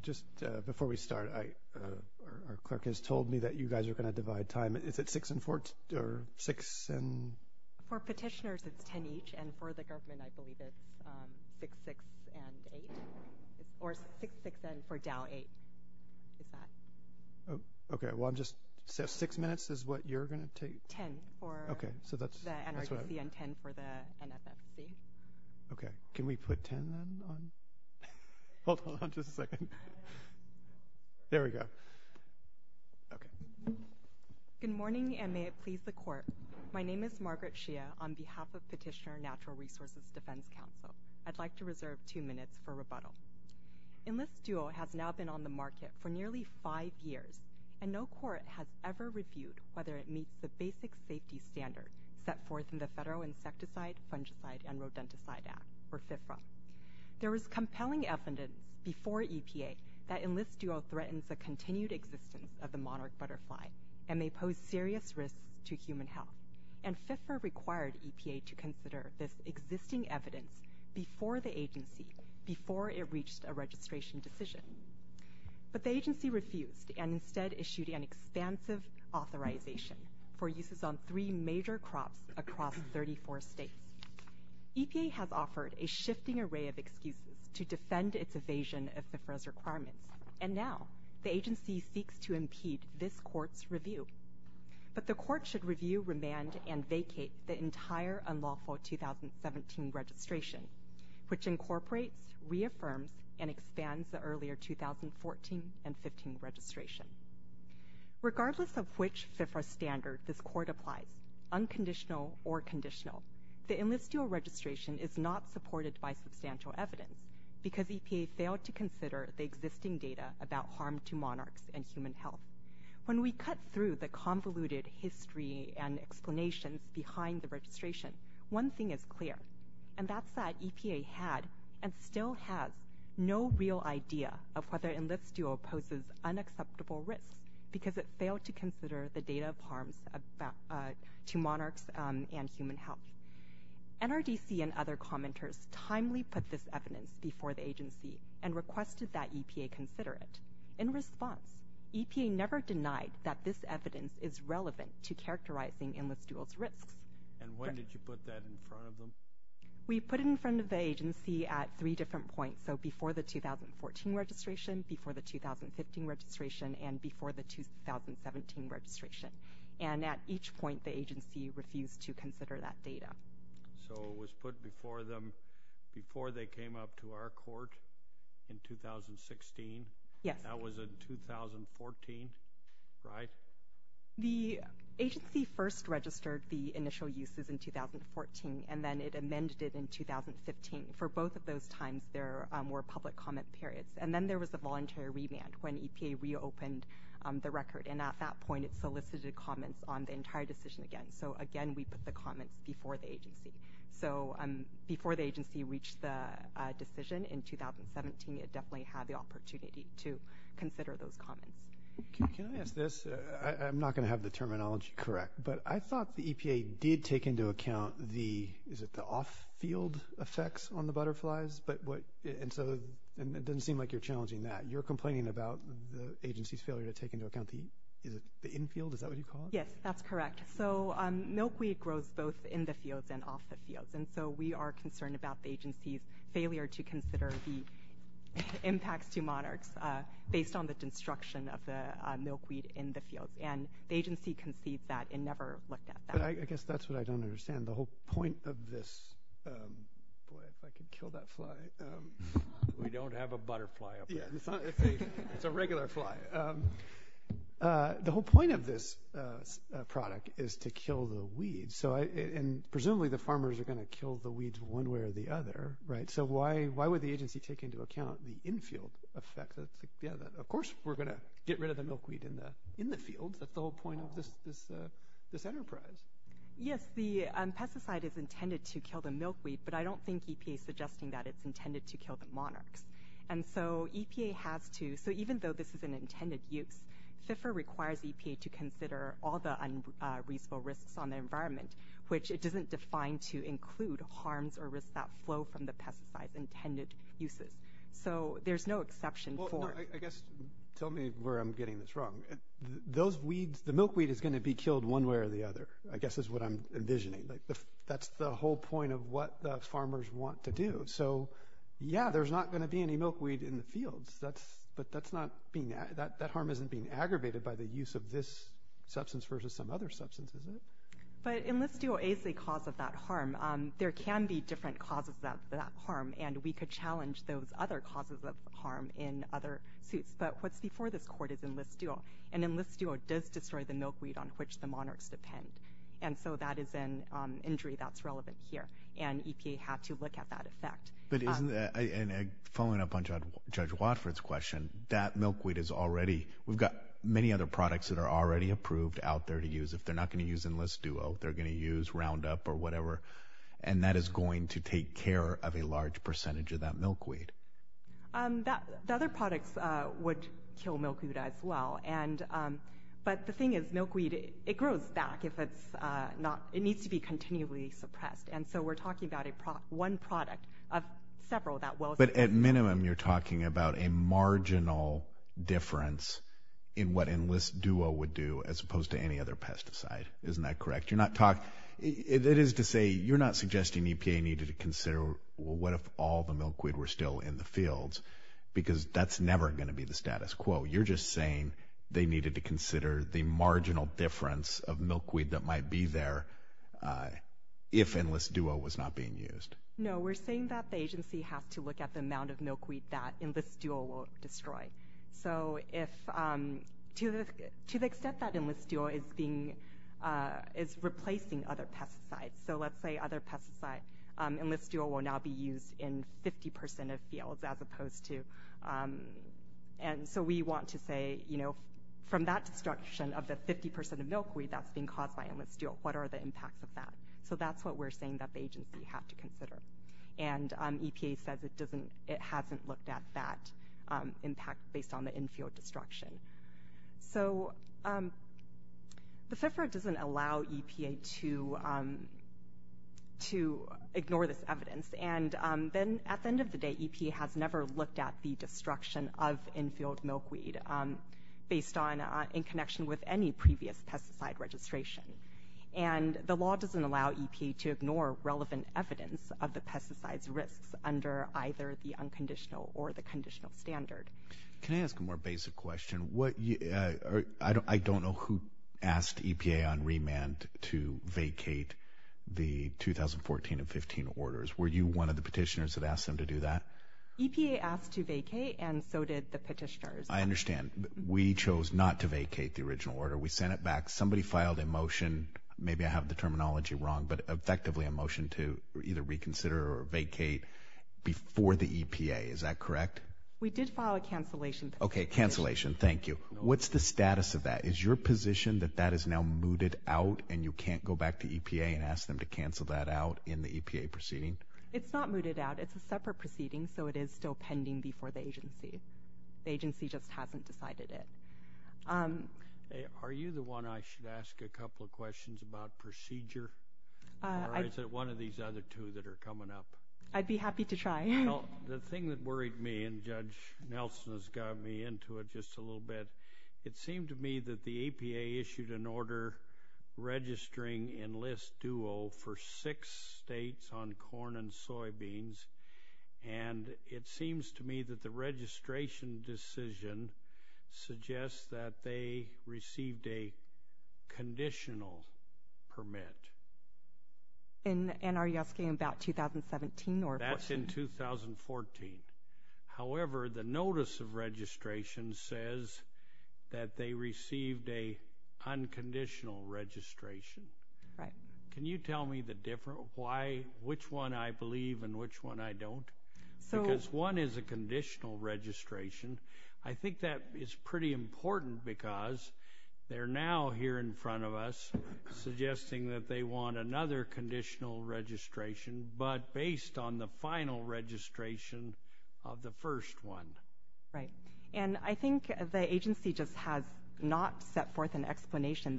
Just before we start, our clerk has told me that you guys are going to divide time. Is it 6 and 4, or 6 and... For petitioners, it's 10 each, and for the government, I believe it's 6, 6, and 8. Or 6, 6, and for Dow, 8. Okay, well I'm just... 6 minutes is what you're going to take? 10, for the NRDC, and 10 for the NFFC. Okay, can we put 10 on? Hold on just a second. There we go. Good morning, and may it please the court. My name is Margaret Shia on behalf of Petitioner Natural Resources Defense Council. I'd like to reserve two minutes for rebuttal. Enlist Duo has now been on the market for nearly five years, and no court has ever reviewed whether it meets the basic safety standards set forth in the Federal Insecticide, Fungicide, and Rodenticide Act, or FIFRA. There was compelling evidence before EPA that Enlist Duo threatens the continued existence of the monarch butterfly, and may pose serious risks to human health. And FIFRA required EPA to consider this existing evidence before the agency, before it reached a registration decision. But the agency refused, and instead issued an expansive authorization for uses on three major crops across 34 states. EPA has offered a shifting array of excuses to defend its evasion of FIFRA's requirements, and now the agency seeks to impede this court's review. But the court should review, remand, and vacate the entire unlawful 2017 registration, which incorporates, reaffirms, and expands the earlier 2014 and 2015 registrations. Regardless of which FIFRA standard this court applies, unconditional or conditional, the Enlist Duo registration is not supported by substantial evidence, because EPA failed to consider the existing data about harm to monarchs and human health. When we cut through the convoluted history and explanations behind the registration, one thing is clear, and that's that EPA had and still has no real idea of whether Enlist Duo poses unacceptable risks, because it failed to consider the data of harms to monarchs and human health. NRDC and other commenters timely put this evidence before the agency, and requested that EPA consider it. In response, EPA never denied that this evidence is relevant to characterizing Enlist Duo's risks. And when did you put that in front of them? We put it in front of the agency at three different points, so before the 2014 registration, before the 2015 registration, and before the 2017 registration. And at each point, the agency refused to consider that data. So it was put before them before they came up to our court in 2016? Yes. That was in 2014, right? The agency first registered the initial uses in 2014, and then it amended it in 2015. For both of those times, there were public comment periods. And then there was a voluntary revamp when EPA reopened the record, and at that point it solicited comments on the entire decision again. So again, we put the comments before the agency. So before the agency reached the decision in 2017, it definitely had the opportunity to consider those comments. Can I ask this? I'm not going to have the terminology correct, but I thought the EPA did take into account the off-field effects on the butterflies, and it doesn't seem like you're challenging that. You're complaining about the agency's failure to take into account the infield? Is that what you call it? Yes, that's correct. So milkweed grows both in the fields and off the fields, and so we are concerned about the agency's failure to consider the impacts to monarchs based on the destruction of the milkweed in the field. And the agency concedes that and never looked at that. I guess that's what I don't understand. The whole point of this – boy, if I could kill that fly. We don't have a butterfly up there. It's a regular fly. The whole point of this product is to kill the weeds, and presumably the farmers are going to kill the weeds one way or the other, right? So why would the agency take into account the infield effect? Of course we're going to get rid of the milkweed in the fields. That's the whole point of this enterprise. Yes, the pesticide is intended to kill the milkweed, but I don't think EPA is suggesting that it's intended to kill the monarchs. And so EPA has to – so even though this is an intended use, FIFR requires EPA to consider all the unreasonable risks on the environment, which it doesn't define to include harms or risks that flow from the pesticide's intended uses. So there's no exception for – Well, no, I guess – tell me where I'm getting this wrong. Those weeds – the milkweed is going to be killed one way or the other, I guess is what I'm envisioning. That's the whole point of what the farmers want to do. So, yeah, there's not going to be any milkweed in the fields, but that's not being – that harm isn't being aggravated by the use of this substance versus some other substance, is it? But Enlist Duo is the cause of that harm. There can be different causes of that harm, and we could challenge those other causes of harm in other suits. But what's before this court is Enlist Duo, and Enlist Duo does destroy the milkweed on which the monarchs depend. And so that is an injury that's relevant here, and EPA had to look at that effect. But isn't – and following up on Judge Watford's question, that milkweed is already – we've got many other products that are already approved out there to use. If they're not going to use Enlist Duo, they're going to use Roundup or whatever, and that is going to take care of a large percentage of that milkweed. The other products would kill milkweed as well. But the thing is, milkweed, it grows back if it's not – it needs to be continually suppressed. And so we're talking about one product of several that will. But at minimum, you're talking about a marginal difference in what Enlist Duo would do as opposed to any other pesticide. Isn't that correct? You're not – it is to say you're not suggesting EPA needed to consider, well, what if all the milkweed were still in the fields? Because that's never going to be the status quo. You're just saying they needed to consider the marginal difference of milkweed that might be there if Enlist Duo was not being used. No, we're saying that the agency has to look at the amount of milkweed that Enlist Duo will destroy. So if – to the extent that Enlist Duo is being – is replacing other pesticides, so let's say other pesticide, Enlist Duo will now be used in 50% of fields as opposed to – and so we want to say, you know, from that destruction of the 50% of milkweed that's being caused by Enlist Duo, what are the impacts of that? So that's what we're saying that the agency had to consider. And EPA says it doesn't – it hasn't looked at that impact based on the infield destruction. So the FFRA doesn't allow EPA to ignore this evidence. And then at the end of the day, EPA has never looked at the destruction of infield milkweed based on – in connection with any previous pesticide registration. And the law doesn't allow EPA to ignore relevant evidence of the pesticides risks under either the unconditional or the conditional standard. Can I ask a more basic question? What – I don't know who asked EPA on remand to vacate the 2014 and 2015 orders. Were you one of the petitioners that asked them to do that? EPA asked to vacate, and so did the petitioners. I understand. We chose not to vacate the original order. We sent it back. Somebody filed a motion – maybe I have the terminology wrong, but effectively a motion to either reconsider or vacate before the EPA. Is that correct? We did file a cancellation petition. Okay, cancellation. Thank you. What's the status of that? Is your position that that is now mooted out and you can't go back to EPA and ask them to cancel that out in the EPA proceeding? It's not mooted out. It's a separate proceeding, so it is still pending before the agency. The agency just hasn't decided it. Are you the one I should ask a couple of questions about procedure, or is it one of these other two that are coming up? I'd be happy to try. The thing that worried me, and Judge Nelson has got me into it just a little bit, it seemed to me that the EPA issued an order registering Enlist Duo for six states on corn and soybeans, and it seems to me that the registration decision suggests that they received a conditional permit. And are you asking about 2017? That's in 2014. However, the notice of registration says that they received an unconditional registration. Can you tell me which one I believe and which one I don't? Because one is a conditional registration. I think that is pretty important because they're now here in front of us suggesting that they want another conditional registration, but based on the final registration of the first one. I think the agency just has not set forth an explanation.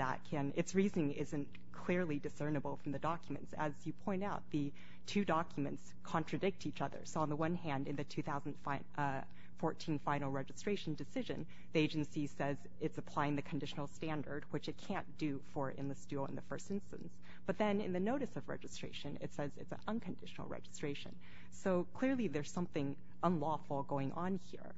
Its reasoning isn't clearly discernible from the documents. As you point out, the two documents contradict each other. So on the one hand, in the 2014 final registration decision, the agency says it's applying the conditional standard, which it can't do for Enlist Duo in the first instance. But then in the notice of registration, it says it's an unconditional registration. So clearly there's something unlawful going on here.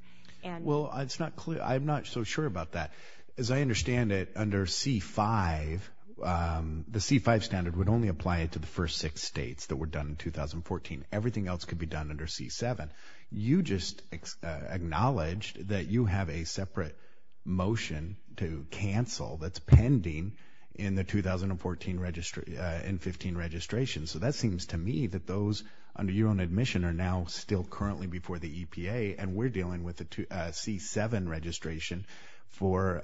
Well, I'm not so sure about that. As I understand it, under C-5, the C-5 standard would only apply it to the first six states that were done in 2014. Everything else could be done under C-7. You just acknowledged that you have a separate motion to cancel that's pending in the 2014 and 2015 registrations. So that seems to me that those under your own admission are now still currently before the EPA, and we're dealing with a C-7 registration for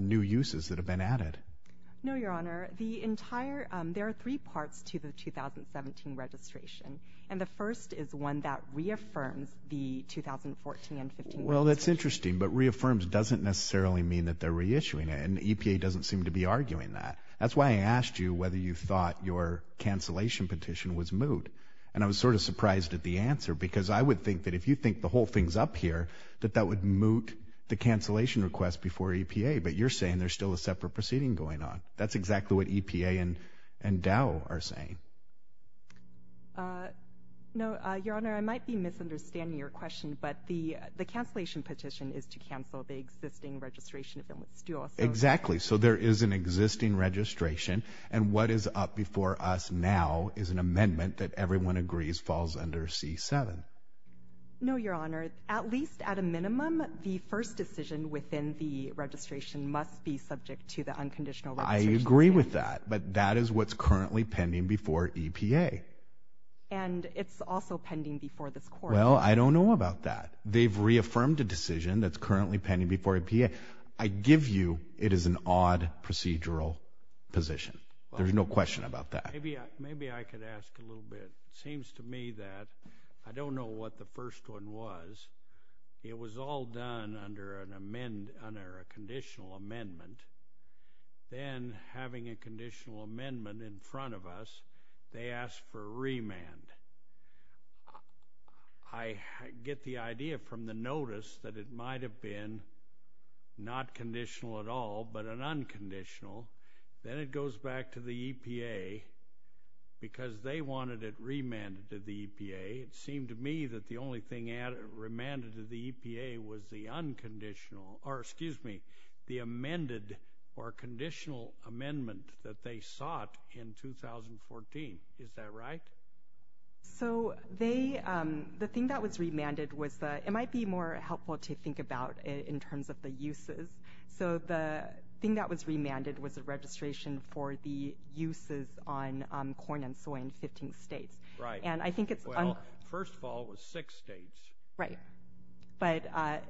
new uses that have been added. No, Your Honor. There are three parts to the 2017 registration, and the first is one that reaffirms the 2014 and 2015 registration. Well, that's interesting, but reaffirms doesn't necessarily mean that they're reissuing it, and EPA doesn't seem to be arguing that. That's why I asked you whether you thought your cancellation petition was moot, and I was sort of surprised at the answer, because I would think that if you think the whole thing's up here, that that would moot the cancellation request before EPA, but you're saying there's still a separate proceeding going on. That's exactly what EPA and Dow are saying. No, Your Honor. I might be misunderstanding your question, but the cancellation petition is to cancel the existing registration, if it was still associated. Exactly. So there is an existing registration, and what is up before us now is an amendment that everyone agrees falls under C-7. No, Your Honor. At least at a minimum, the first decision within the registration must be subject to the unconditional registration. I agree with that, but that is what's currently pending before EPA. And it's also pending before this court. Well, I don't know about that. They've reaffirmed a decision that's currently pending before EPA. I give you it is an odd procedural position. There's no question about that. Maybe I could ask a little bit. It seems to me that I don't know what the first one was. It was all done under a conditional amendment. Then, having a conditional amendment in front of us, they asked for a remand. I get the idea from the notice that it might have been not conditional at all, but an unconditional. Then it goes back to the EPA because they wanted it remanded to the EPA. It seemed to me that the only thing remanded to the EPA was the unconditional or, excuse me, the amended or conditional amendment that they sought in 2014. Is that right? The thing that was remanded, it might be more helpful to think about in terms of the uses. The thing that was remanded was a registration for the uses on corn and soy in 15 states. First of all, it was six states. Right. But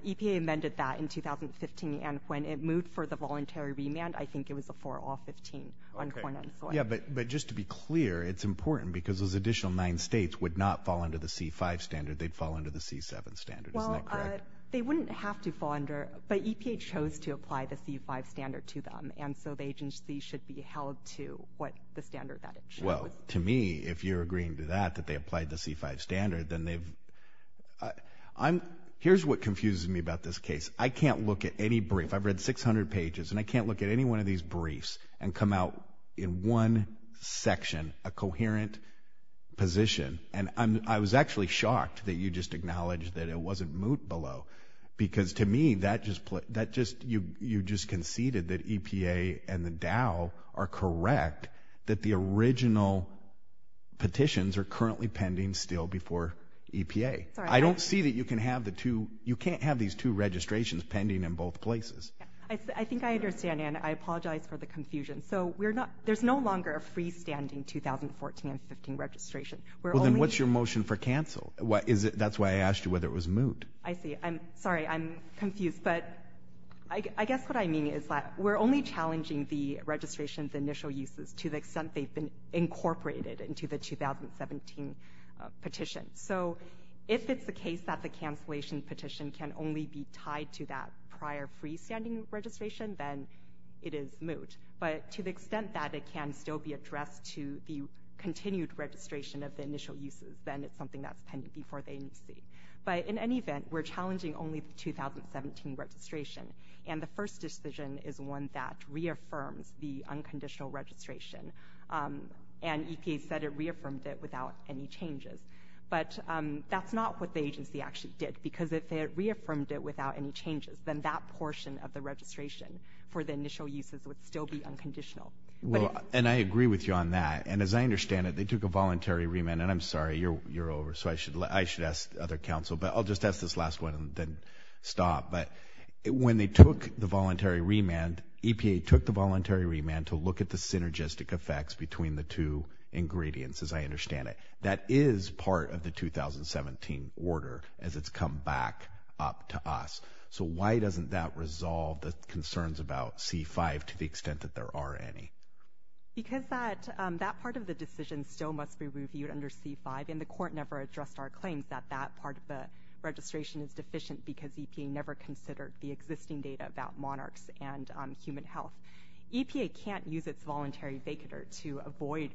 EPA amended that in 2015, and when it moved for the voluntary remand, I think it was for all 15 on corn and soy. Yeah, but just to be clear, it's important because those additional nine states would not fall under the C-5 standard. They'd fall under the C-7 standard. Isn't that correct? Well, they wouldn't have to fall under, but EPA chose to apply the C-5 standard to them, and so the agency should be held to the standard that it chose. Well, to me, if you're agreeing to that, that they applied the C-5 standard, then they've— Here's what confuses me about this case. I can't look at any brief. I've read 600 pages, and I can't look at any one of these briefs and come out in one section a coherent position. And I was actually shocked that you just acknowledged that it wasn't moot below because to me that just—you just conceded that EPA and the Dow are correct, that the original petitions are currently pending still before EPA. I don't see that you can have the two— I think I understand, and I apologize for the confusion. So there's no longer a freestanding 2014 and 2015 registration. Well, then what's your motion for cancel? That's why I asked you whether it was moot. I see. I'm sorry. I'm confused. But I guess what I mean is that we're only challenging the registration of the initial uses to the extent they've been incorporated into the 2017 petition. So if it's the case that the cancellation petition can only be tied to that prior freestanding registration, then it is moot. But to the extent that it can still be addressed to the continued registration of the initial uses, then it's something that's pending before the agency. But in any event, we're challenging only the 2017 registration, and the first decision is one that reaffirms the unconditional registration. And EPA said it reaffirmed it without any changes. But that's not what the agency actually did, because if it reaffirmed it without any changes, then that portion of the registration for the initial uses would still be unconditional. And I agree with you on that. And as I understand it, they took a voluntary remand. And I'm sorry, you're over, so I should ask other counsel. But I'll just ask this last one and then stop. But when they took the voluntary remand, EPA took the voluntary remand to look at the synergistic effects between the two ingredients, as I understand it. That is part of the 2017 order as it's come back up to us. So why doesn't that resolve the concerns about C-5 to the extent that there are any? Because that part of the decision still must be reviewed under C-5, and the court never addressed our claims that that part of the registration is deficient because EPA never considered the existing data about monarchs and human health. EPA can't use its voluntary vacater to avoid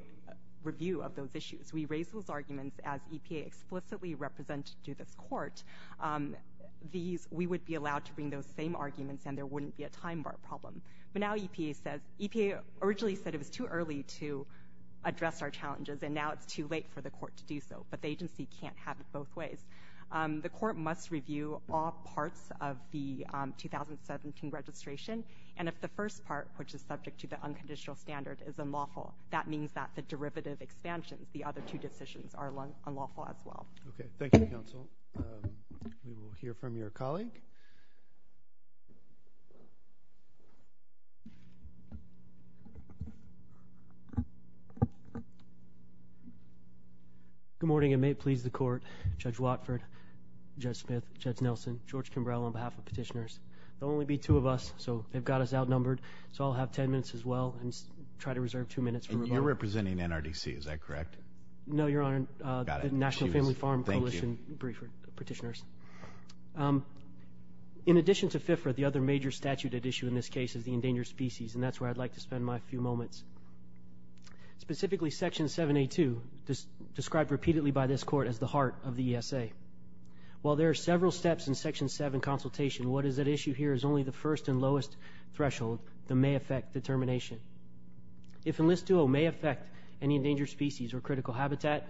review of those issues. We raised those arguments as EPA explicitly represented to this court. We would be allowed to bring those same arguments, and there wouldn't be a time bar problem. But now EPA originally said it was too early to address our challenges, and now it's too late for the court to do so. But the agency can't have it both ways. The court must review all parts of the 2017 registration, and if the first part, which is subject to the unconditional standard, is unlawful, that means that the derivative expansion, the other two decisions, are unlawful as well. Okay. Thank you, counsel. We will hear from your colleague. Okay. Good morning, and may it please the court, Judge Watford, Judge Smith, Judge Nelson, George Kimbrough on behalf of petitioners. There will only be two of us, so they've got us outnumbered, so I'll have 10 minutes as well and try to reserve two minutes for rebuttal. And you're representing NRDC, is that correct? No, Your Honor. Got it. Thank you. In addition to FFRA, the other major statute at issue in this case is the endangered species, and that's where I'd like to spend my few moments. Specifically, Section 782, described repeatedly by this court as the heart of the ESA. While there are several steps in Section 7 consultation, what is at issue here is only the first and lowest threshold that may affect determination. If Enlist DOE may affect any endangered species or critical habitat,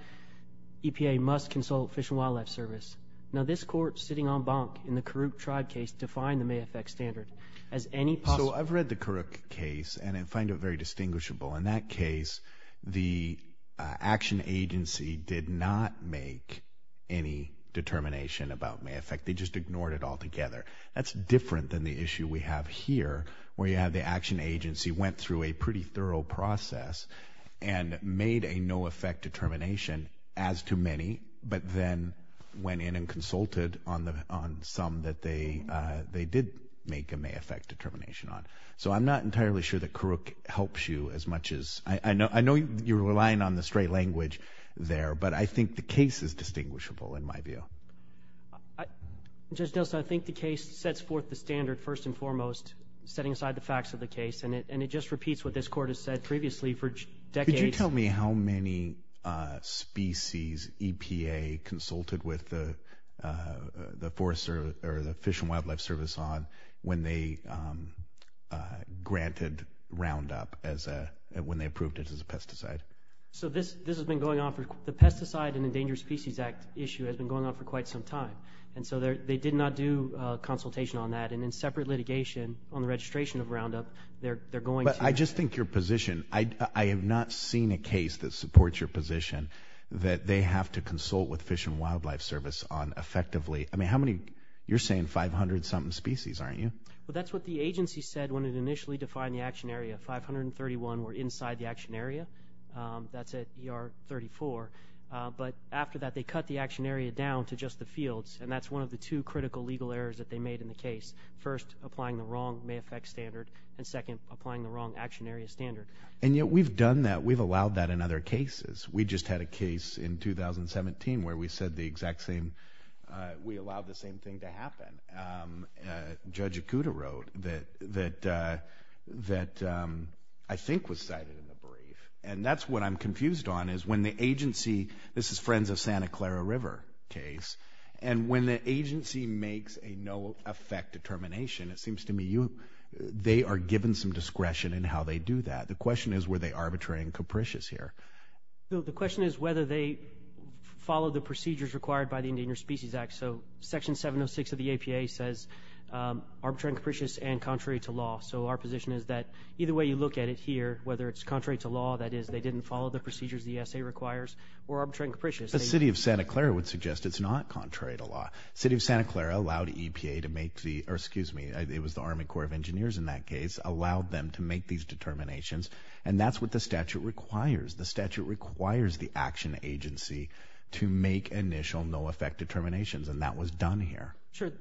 EPA must consult Fish and Wildlife Service. Now, this court, sitting en banc in the Karuk tribe case, defined the may affect standard as any possible. So I've read the Karuk case, and I find it very distinguishable. In that case, the action agency did not make any determination about may affect. They just ignored it altogether. That's different than the issue we have here where you have the action agency went through a pretty thorough process and made a no affect determination as to many, but then went in and consulted on some that they did make a may affect determination on. So I'm not entirely sure that Karuk helps you as much as... I know you're relying on the straight language there, but I think the case is distinguishable in my view. Judge Nelson, I think the case sets forth the standard first and foremost, setting aside the facts of the case, and it just repeats what this court has said previously for decades. Could you tell me how many species EPA consulted with the Fish and Wildlife Service on when they granted Roundup, when they approved it as a pesticide? So this has been going on for... the Pesticide and Endangered Species Act issue has been going on for quite some time. And so they did not do consultation on that. And in separate litigation on the registration of Roundup, they're going to... But I just think your position... I have not seen a case that supports your position that they have to consult with Fish and Wildlife Service on effectively... I mean, how many... you're saying 500-something species, aren't you? Well, that's what the agency said when it initially defined the action area. Five hundred and thirty-one were inside the action area. That's at ER 34. But after that, they cut the action area down to just the fields, and that's one of the two critical legal errors that they made in the case. First, applying the wrong MAFEC standard, and second, applying the wrong action area standard. And yet we've done that. We've allowed that in other cases. We just had a case in 2017 where we said the exact same... we allowed the same thing to happen. Judge Ikuda wrote that I think was cited in the brief. And that's what I'm confused on is when the agency... This is Friends of Santa Clara River case. And when the agency makes a no-effect determination, it seems to me you... they are given some discretion in how they do that. The question is were they arbitrary and capricious here. The question is whether they followed the procedures required by the Endangered Species Act. So, Section 706 of the APA says arbitrary and capricious and contrary to law. So, our position is that either way you look at it here, whether it's contrary to law, that is, they didn't follow the procedures the ESA requires, or arbitrary and capricious... The City of Santa Clara would suggest it's not contrary to law. The City of Santa Clara allowed EPA to make the... or excuse me, it was the Army Corps of Engineers in that case... allowed them to make these determinations, and that's what the statute requires. The statute requires the action agency to make initial no-effect determinations. And, that was done here. Sure.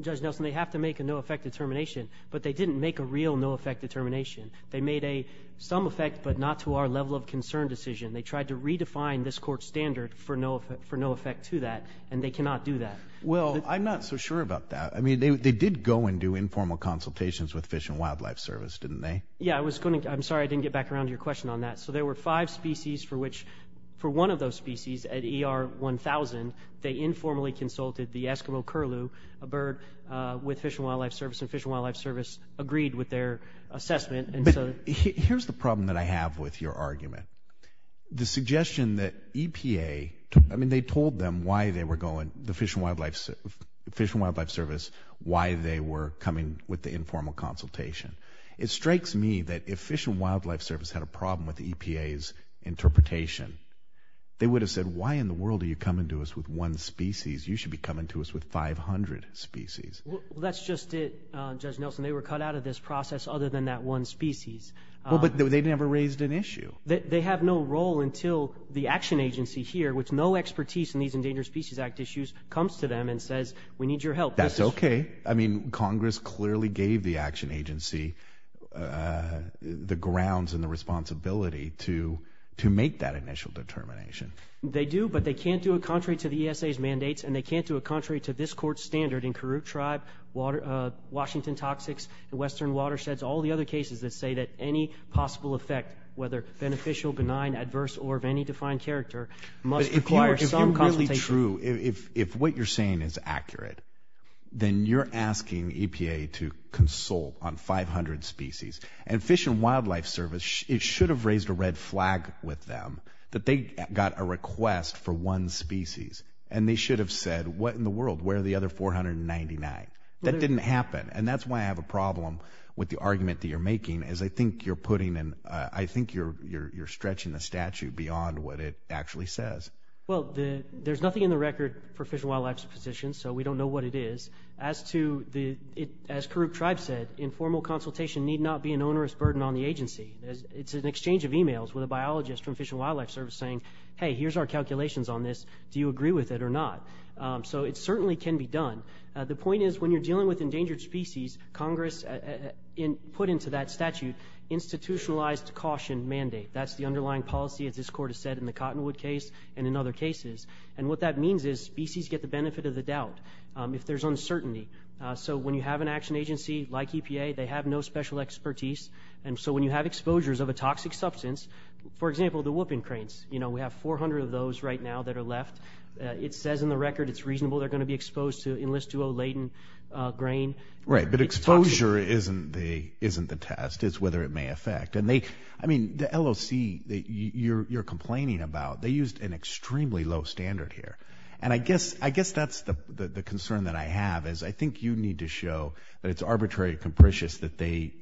Judge Nelson, they have to make a no-effect determination. But, they didn't make a real no-effect determination. They made a some effect, but not to our level of concern decision. They tried to redefine this court standard for no effect to that. And, they cannot do that. Well, I'm not so sure about that. I mean they did go and do informal consultations with Fish and Wildlife Service, didn't they? Yeah, I was going to... I'm sorry I didn't get back around to your question on that. So, there were five species for which... for one of those species at ER 1000... they informally consulted the Eskimo Curlew, a bird with Fish and Wildlife Service. And, Fish and Wildlife Service agreed with their assessment. But, here's the problem that I have with your argument. The suggestion that EPA... I mean they told them why they were going... the Fish and Wildlife Service... why they were coming with the informal consultation. It strikes me that if Fish and Wildlife Service had a problem with EPA's interpretation... they would have said, why in the world are you coming to us with one species? You should be coming to us with 500 species. Well, that's just it, Judge Nelson. They were cut out of this process, other than that one species. Well, but they never raised an issue. They have no role until the action agency here... which no expertise in these Endangered Species Act issues... comes to them and says, we need your help. That's okay. I mean, Congress clearly gave the action agency... They do, but they can't do it contrary to the ESA's mandates... and they can't do it contrary to this court's standard in Karuk Tribe... Washington Toxics... Western Watersheds... all the other cases that say that any possible effect... whether beneficial, benign, adverse or of any defined character... must require some consultation. But, if you're really true... if what you're saying is accurate... then you're asking EPA to consult on 500 species. And, Fish and Wildlife Service... it should have raised a red flag with them... that they got a request for one species. And, they should have said, what in the world? Where are the other 499? That didn't happen. And, that's why I have a problem with the argument that you're making... as I think you're putting in... I think you're stretching the statute beyond what it actually says. Well, there's nothing in the record for Fish and Wildlife's position. So, we don't know what it is. As to the... as Karuk Tribe said... informal consultation need not be an onerous burden on the agency. It's an exchange of emails with a biologist from Fish and Wildlife Service saying... Hey, here's our calculations on this. Do you agree with it or not? So, it certainly can be done. The point is, when you're dealing with endangered species... Congress put into that statute... institutionalized caution mandate. That's the underlying policy, as this court has said in the Cottonwood case... and, in other cases. And, what that means is... species get the benefit of the doubt... if there's uncertainty. So, when you have an action agency, like EPA... they have no special expertise. And so, when you have exposures of a toxic substance... for example, the whooping cranes. You know, we have 400 of those, right now, that are left. It says in the record, it's reasonable. They're going to be exposed to... enlist to a latent grain. Right, but exposure isn't the test. It's whether it may affect. And, they... I mean, the LOC that you're complaining about... they used an extremely low standard here. And, I guess... I guess that's the concern that I have is... I think you need to show that it's arbitrary and capricious... to use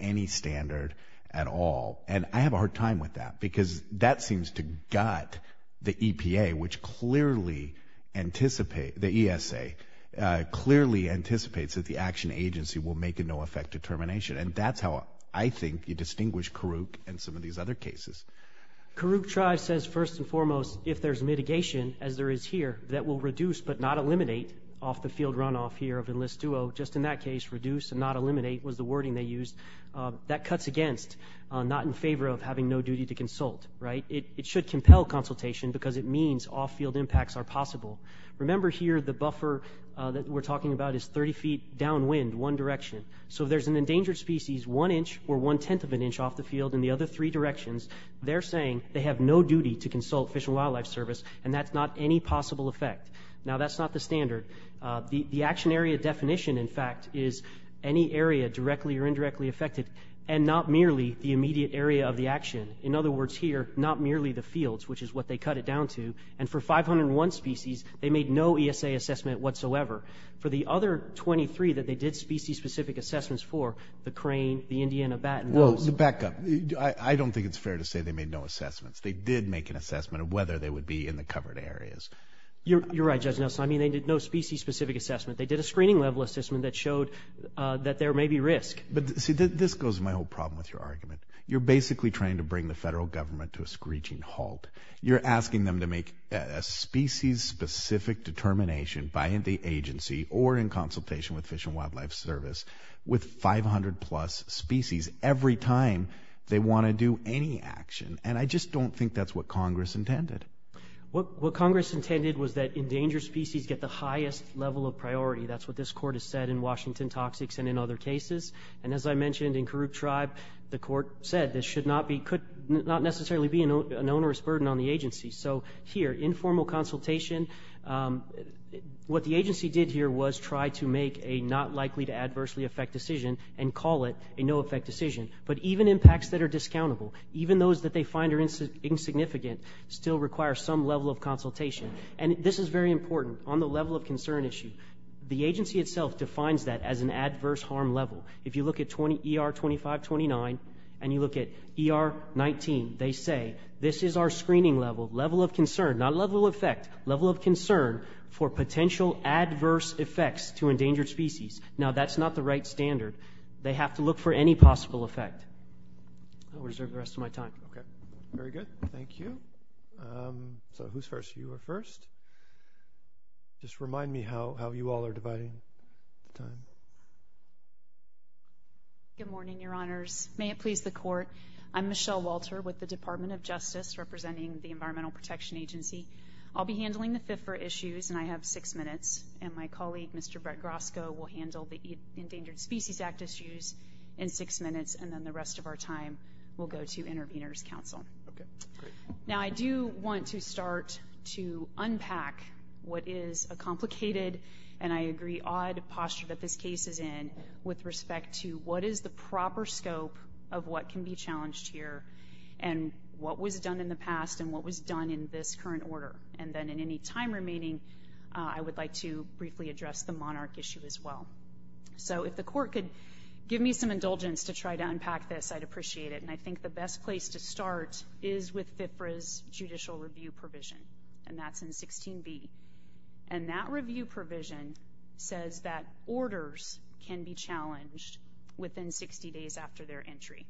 any standard, at all. And, I have a hard time with that, because that seems to gut the EPA... which clearly anticipate... the ESA... clearly anticipates that the action agency will make a no effect determination. And, that's how I think you distinguish Karuk and some of these other cases. Karuk Tribe says, first and foremost, if there's mitigation, as there is here... that will reduce, but not eliminate, off the field runoff here, of enlist duo. Just in that case, reduce and not eliminate was the wording they used. That cuts against, not in favor of having no duty to consult. Right? It should compel consultation, because it means all field impacts are possible. Remember here, the buffer that we're talking about is 30 feet downwind, one direction. So, if there's an endangered species, one inch or one-tenth of an inch off the field... in the other three directions, they're saying they have no duty to consult Fish and Wildlife Service... and that's not any possible effect. Now, that's not the standard. The action area definition, in fact, is any area directly or indirectly affected... and not merely the immediate area of the action. In other words, here, not merely the fields, which is what they cut it down to. And, for 501 species, they made no ESA assessment whatsoever. For the other 23 that they did species specific assessments for... the crane, the Indiana bat... Well, to back up, I don't think it's fair to say they made no assessments. They did make an assessment of whether they would be in the covered areas. You're right, Judge Nelson. I mean, they did no species specific assessment. They did a screening level assessment that showed that there may be risk. But, see this goes to my whole problem with your argument. You're basically trying to bring the Federal Government to a screeching halt. You're asking them to make a species specific determination... by the agency or in consultation with Fish and Wildlife Service... with 500 plus species, every time they want to do any action. And, I just don't think that's what Congress intended. What Congress intended was that endangered species get the highest level of priority. That's what this Court has said in Washington Toxics and in other cases. And, as I mentioned, in Karuk Tribe, the Court said this should not be... could not necessarily be an onerous burden on the agency. So, here, informal consultation... What the agency did here was try to make a not likely to adversely affect decision... and call it a no effect decision. But, even impacts that are discountable... require some level of consultation. And, this is very important on the level of concern issue. The agency itself defines that as an adverse harm level. If you look at ER 2529 and you look at ER 19... they say, this is our screening level, level of concern, not level of effect... level of concern for potential adverse effects to endangered species. Now, that's not the right standard. They have to look for any possible effect. I'll reserve the rest of my time. Okay. Very good. Thank you. So, who's first? You are first. Just remind me how you all are dividing the time. Good morning, Your Honors. May it please the Court. I'm Michelle Walter with the Department of Justice... representing the Environmental Protection Agency. I'll be handling the FIFRA issues and I have six minutes. And, my colleague, Mr. Brett Grosko will handle the Endangered Species Act issues in six minutes. And then, the rest of our time, we'll go to Intervenors Council. Okay. Great. Now, I do want to start to unpack what is a complicated... and I agree, odd posture that this case is in... with respect to what is the proper scope of what can be challenged here... and what was done in the past and what was done in this current order. And then, in any time remaining, I would like to briefly address the monarch issue as well. So, if the Court could give me some indulgence to try to unpack this, I'd appreciate it. And, I think the best place to start is with FIFRA's Judicial Review Provision. And, that's in 16B. And, that review provision says that orders can be challenged within 60 days after their entry.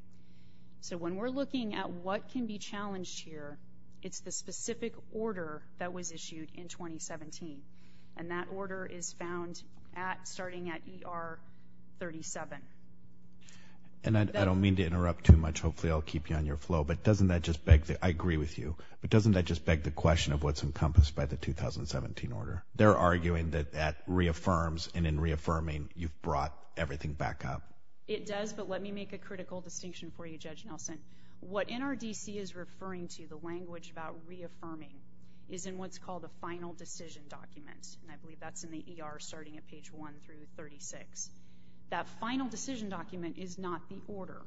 So, when we're looking at what can be challenged here... it's the specific order that was issued in 2017. And, that order is found at... starting at ER 37. And, I don't mean to interrupt too much. Hopefully, I'll keep you on your flow. But, doesn't that just beg the... I agree with you. But, doesn't that just beg the question of what's encompassed by the 2017 order? They're arguing that that reaffirms. And, in reaffirming, you've brought everything back up. It does, but let me make a critical distinction for you, Judge Nelson. What NRDC is referring to, the language about reaffirming, is in what's called a Final Decision Document. And, I believe that's in the ER, starting at page 1 through 36. That Final Decision Document is not the order.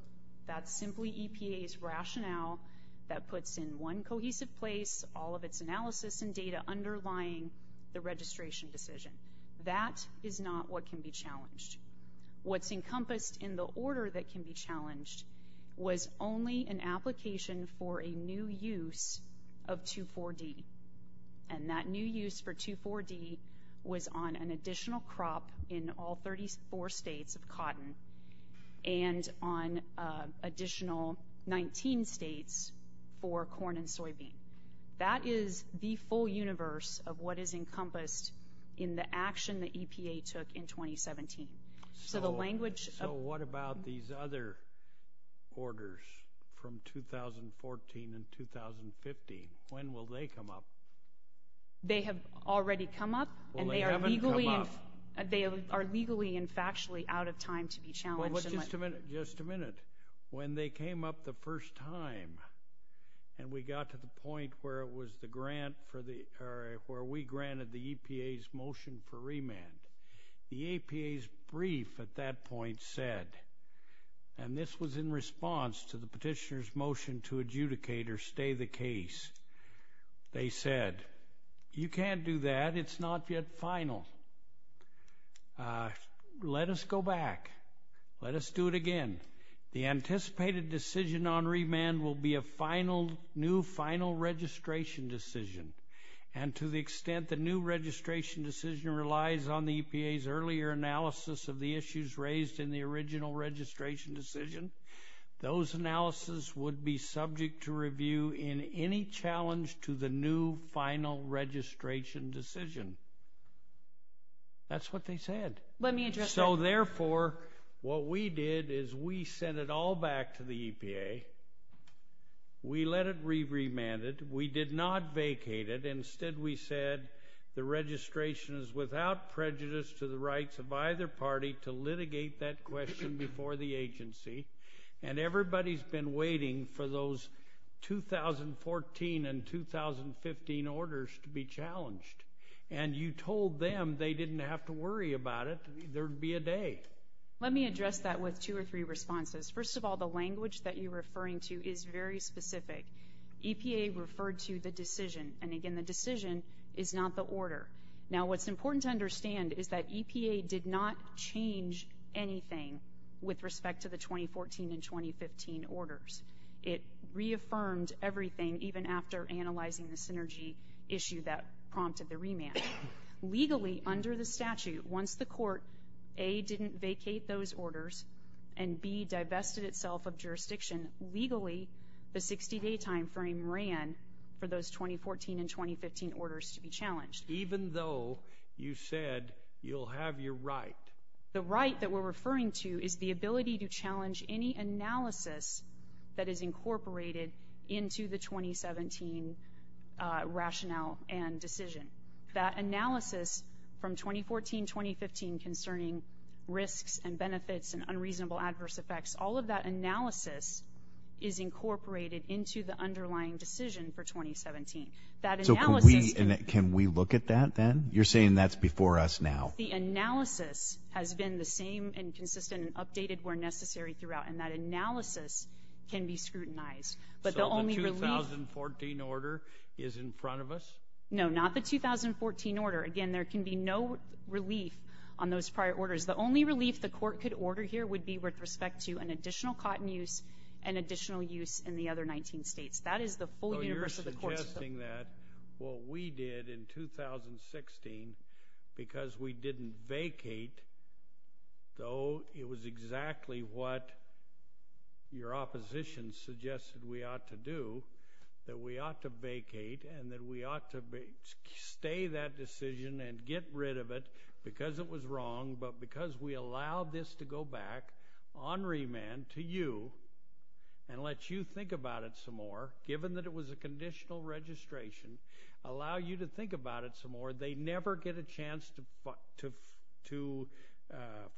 That's simply EPA's rationale that puts in one cohesive place, all of its analysis and data underlying the registration decision. That is not what can be challenged. What's encompassed in the order that can be challenged was only an application for a new use of 2,4-D. And, that new use for 2,4-D was on an additional crop in all 34 states of cotton and on additional 19 states for corn and soybean. That is the full universe of what is encompassed in the action that EPA took in 2017. So, what about these other orders from 2014 and 2015? When will they come up? They have already come up, and they are legally and factually out of time to be challenged. Just a minute. When they came up the first time, and we got to the point where we granted the EPA's motion for remand, the EPA's brief at that point said, and this was in response to the petitioner's motion to adjudicate or stay the case, they said, you can't do that. It's not yet final. Let us go back. Let us do it again. The anticipated decision on remand will be a new final registration decision. And, to the extent the new registration decision relies on the EPA's earlier analysis of the issues raised in the original registration decision, those analyses would be subject to review in any challenge to the new final registration decision. That's what they said. Let me address that. So, therefore, what we did is we sent it all back to the EPA. We let it be remanded. We did not vacate it. Instead, we said the registration is without prejudice to the rights of either party to litigate that question before the agency. And everybody's been waiting for those 2014 and 2015 orders to be challenged. And you told them they didn't have to worry about it. There would be a day. Let me address that with two or three responses. First of all, the language that you're referring to is very specific. EPA referred to the decision. And, again, the decision is not the order. Now, what's important to understand is that EPA did not change anything with respect to the 2014 and 2015 orders. It reaffirmed everything, even after analyzing the synergy issue that prompted the remand. Legally, under the statute, once the court, A, didn't vacate those orders and, B, divested itself of jurisdiction, legally, the 60-day timeframe ran for those 2014 and 2015 orders to be challenged. Even though you said you'll have your right? The right that we're referring to is the ability to challenge any analysis that is incorporated into the 2017 rationale and decision. That analysis from 2014-2015 concerning risks and benefits and unreasonable adverse effects, all of that analysis is incorporated into the underlying decision for 2017. So can we look at that then? You're saying that's before us now. The analysis has been the same and consistent and updated where necessary throughout. And that analysis can be scrutinized. So the 2014 order is in front of us? No, not the 2014 order. Again, there can be no relief on those prior orders. The only relief the court could order here would be with respect to an additional cotton use and additional use in the other 19 states. That is the full universe of the court. So you're suggesting that what we did in 2016, because we didn't vacate, though it was exactly what your opposition suggested we ought to do, that we ought to vacate and that we ought to stay that decision and get rid of it because it was wrong, but because we allow this to go back on remand to you and let you think about it some more, given that it was a conditional registration, allow you to think about it some more, they never get a chance to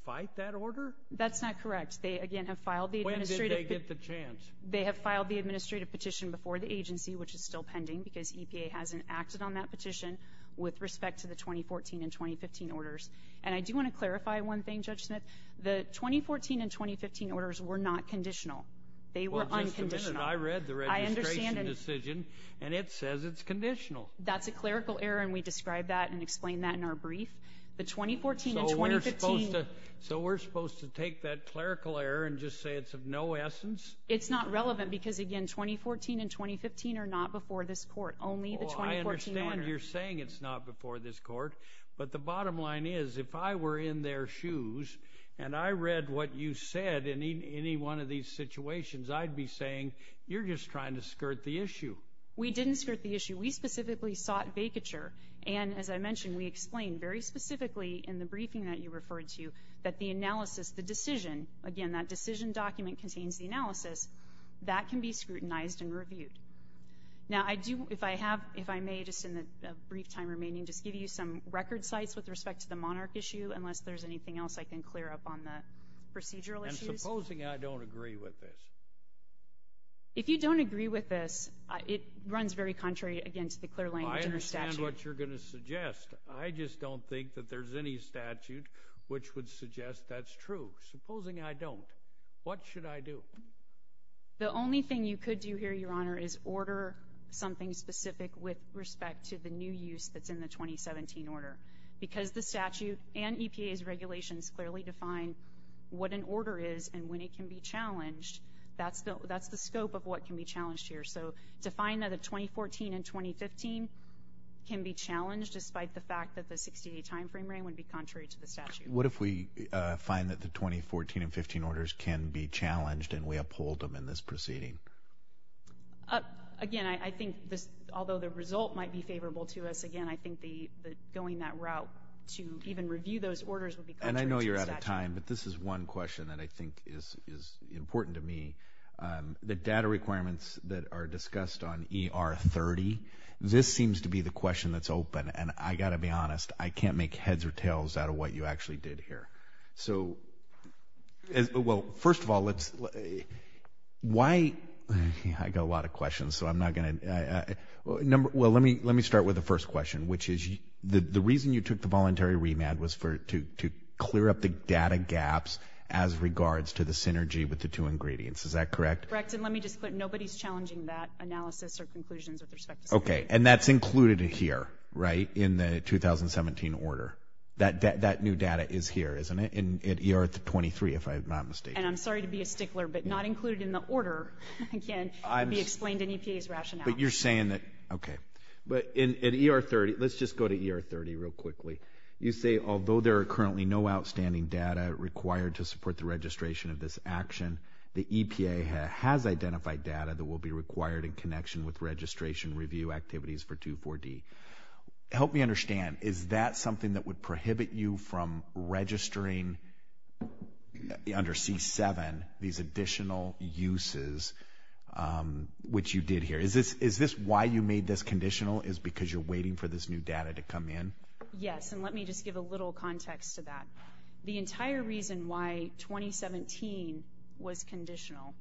fight that order? That's not correct. They, again, have filed the administrative petition. When did they get the chance? They have filed the administrative petition before the agency, which is still pending because EPA hasn't acted on that petition with respect to the 2014 and 2015 orders. And I do want to clarify one thing, Judge Smith. The 2014 and 2015 orders were not conditional. They were unconditional. Well, just a minute. I read the registration decision, and it says it's conditional. That's a clerical error, and we described that and explained that in our brief. The 2014 and 2015. So we're supposed to take that clerical error and just say it's of no essence? It's not relevant because, again, 2014 and 2015 are not before this court, only the 2014 order. Well, I understand what you're saying it's not before this court, but the bottom line is if I were in their shoes and I read what you said in any one of these situations, I'd be saying you're just trying to skirt the issue. We didn't skirt the issue. We specifically sought vacature, and, as I mentioned, we explained very specifically in the briefing that you referred to that the analysis, the decision, again, that decision document contains the analysis. That can be scrutinized and reviewed. Now, if I may, just in the brief time remaining, just give you some record sites with respect to the monarch issue, unless there's anything else I can clear up on the procedural issues. And supposing I don't agree with this? If you don't agree with this, it runs very contrary, again, to the clear language in the statute. Well, I understand what you're going to suggest. I just don't think that there's any statute which would suggest that's true. Supposing I don't, what should I do? The only thing you could do here, Your Honor, is order something specific with respect to the new use that's in the 2017 order, because the statute and EPA's regulations clearly define what an order is and when it can be challenged. That's the scope of what can be challenged here. So to find that a 2014 and 2015 can be challenged, despite the fact that the 60-day timeframe range would be contrary to the statute. What if we find that the 2014 and 2015 orders can be challenged and we uphold them in this proceeding? Again, I think, although the result might be favorable to us, again, I think going that route to even review those orders would be contrary to the statute. And I know you're out of time, but this is one question that I think is important to me. The data requirements that are discussed on ER30, this seems to be the question that's open, and I've got to be honest, I can't make heads or tails out of what you actually did here. So, well, first of all, let's, why, I've got a lot of questions, so I'm not going to, well, let me start with the first question, which is the reason you took the voluntary remand was to clear up the data gaps as regards to the synergy with the two ingredients. Is that correct? Correct, and let me just put nobody's challenging that analysis or conclusions with respect to synergy. Okay, and that's included here, right, in the 2017 order. That new data is here, isn't it, in ER23, if I'm not mistaken? And I'm sorry to be a stickler, but not included in the order, again, to be explained in EPA's rationale. But you're saying that, okay. But in ER30, let's just go to ER30 real quickly. You say, although there are currently no outstanding data required to support the registration of this action, the EPA has identified data that will be required in connection with registration review activities for 2.4.D. Help me understand. Is that something that would prohibit you from registering under C7 these additional uses, which you did here? Is this why you made this conditional, is because you're waiting for this new data to come in? Yes, and let me just give a little context to that. The entire reason why 2017 was conditional,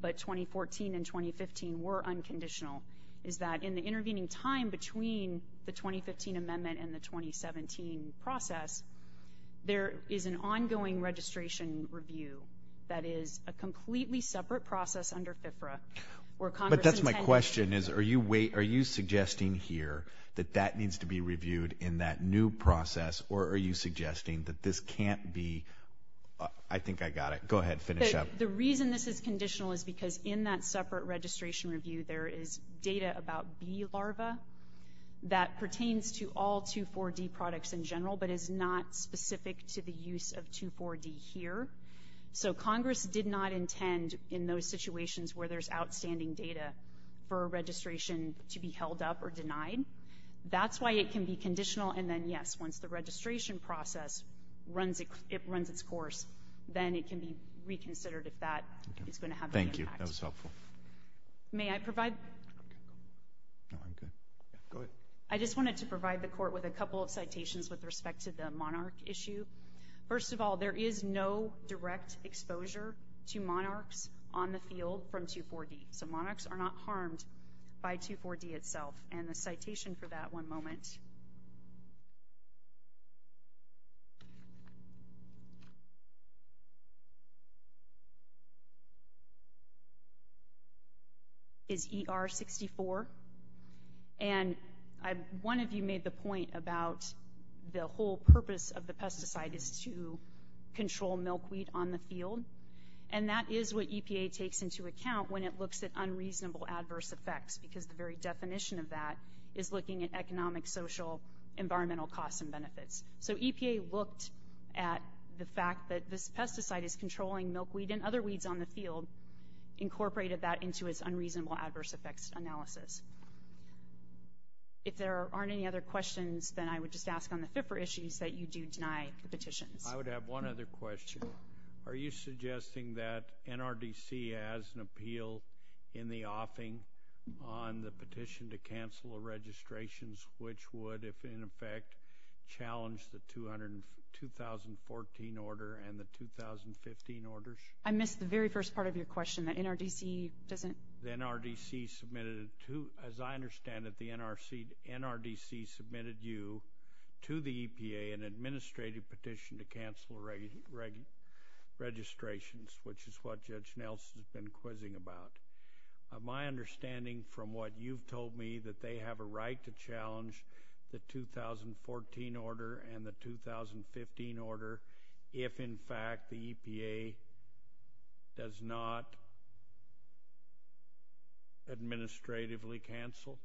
but 2014 and 2015 were unconditional, is that in the intervening time between the 2015 amendment and the 2017 process, there is an ongoing registration review that is a completely separate process under FFRA. But that's my question, is are you suggesting here that that needs to be reviewed in that new process, or are you suggesting that this can't be, I think I got it. Go ahead, finish up. The reason this is conditional is because in that separate registration review, there is data about bee larva that pertains to all 2.4.D. products in general, but is not specific to the use of 2.4.D. here. So Congress did not intend in those situations where there's outstanding data for a registration to be held up or denied. That's why it can be conditional, and then, yes, once the registration process runs its course, then it can be reconsidered if that is going to have an impact. Thank you, that was helpful. May I provide? No, I'm good. Go ahead. I just wanted to provide the Court with a couple of citations with respect to the Monarch issue. First of all, there is no direct exposure to Monarchs on the field from 2.4.D. So Monarchs are not harmed by 2.4.D. itself. And the citation for that, one moment, is ER-64. And one of you made the point about the whole purpose of the pesticide is to control milkweed on the field, and that is what EPA takes into account when it looks at unreasonable adverse effects, because the very definition of that is looking at economic, social, environmental costs and benefits. So EPA looked at the fact that this pesticide is controlling milkweed and other weeds on the field, incorporated that into its unreasonable adverse effects analysis. If there aren't any other questions, then I would just ask on the FIFRA issues that you do deny the petitions. I would have one other question. Are you suggesting that NRDC has an appeal in the offing on the petition to cancel registrations, which would, if in effect, challenge the 2014 order and the 2015 orders? I missed the very first part of your question, that NRDC doesn't— As I understand it, the NRDC submitted you to the EPA an administrative petition to cancel registrations, which is what Judge Nelson has been quizzing about. My understanding from what you've told me, that they have a right to challenge the 2014 order and the 2015 order if, in fact, the EPA does not administratively cancel?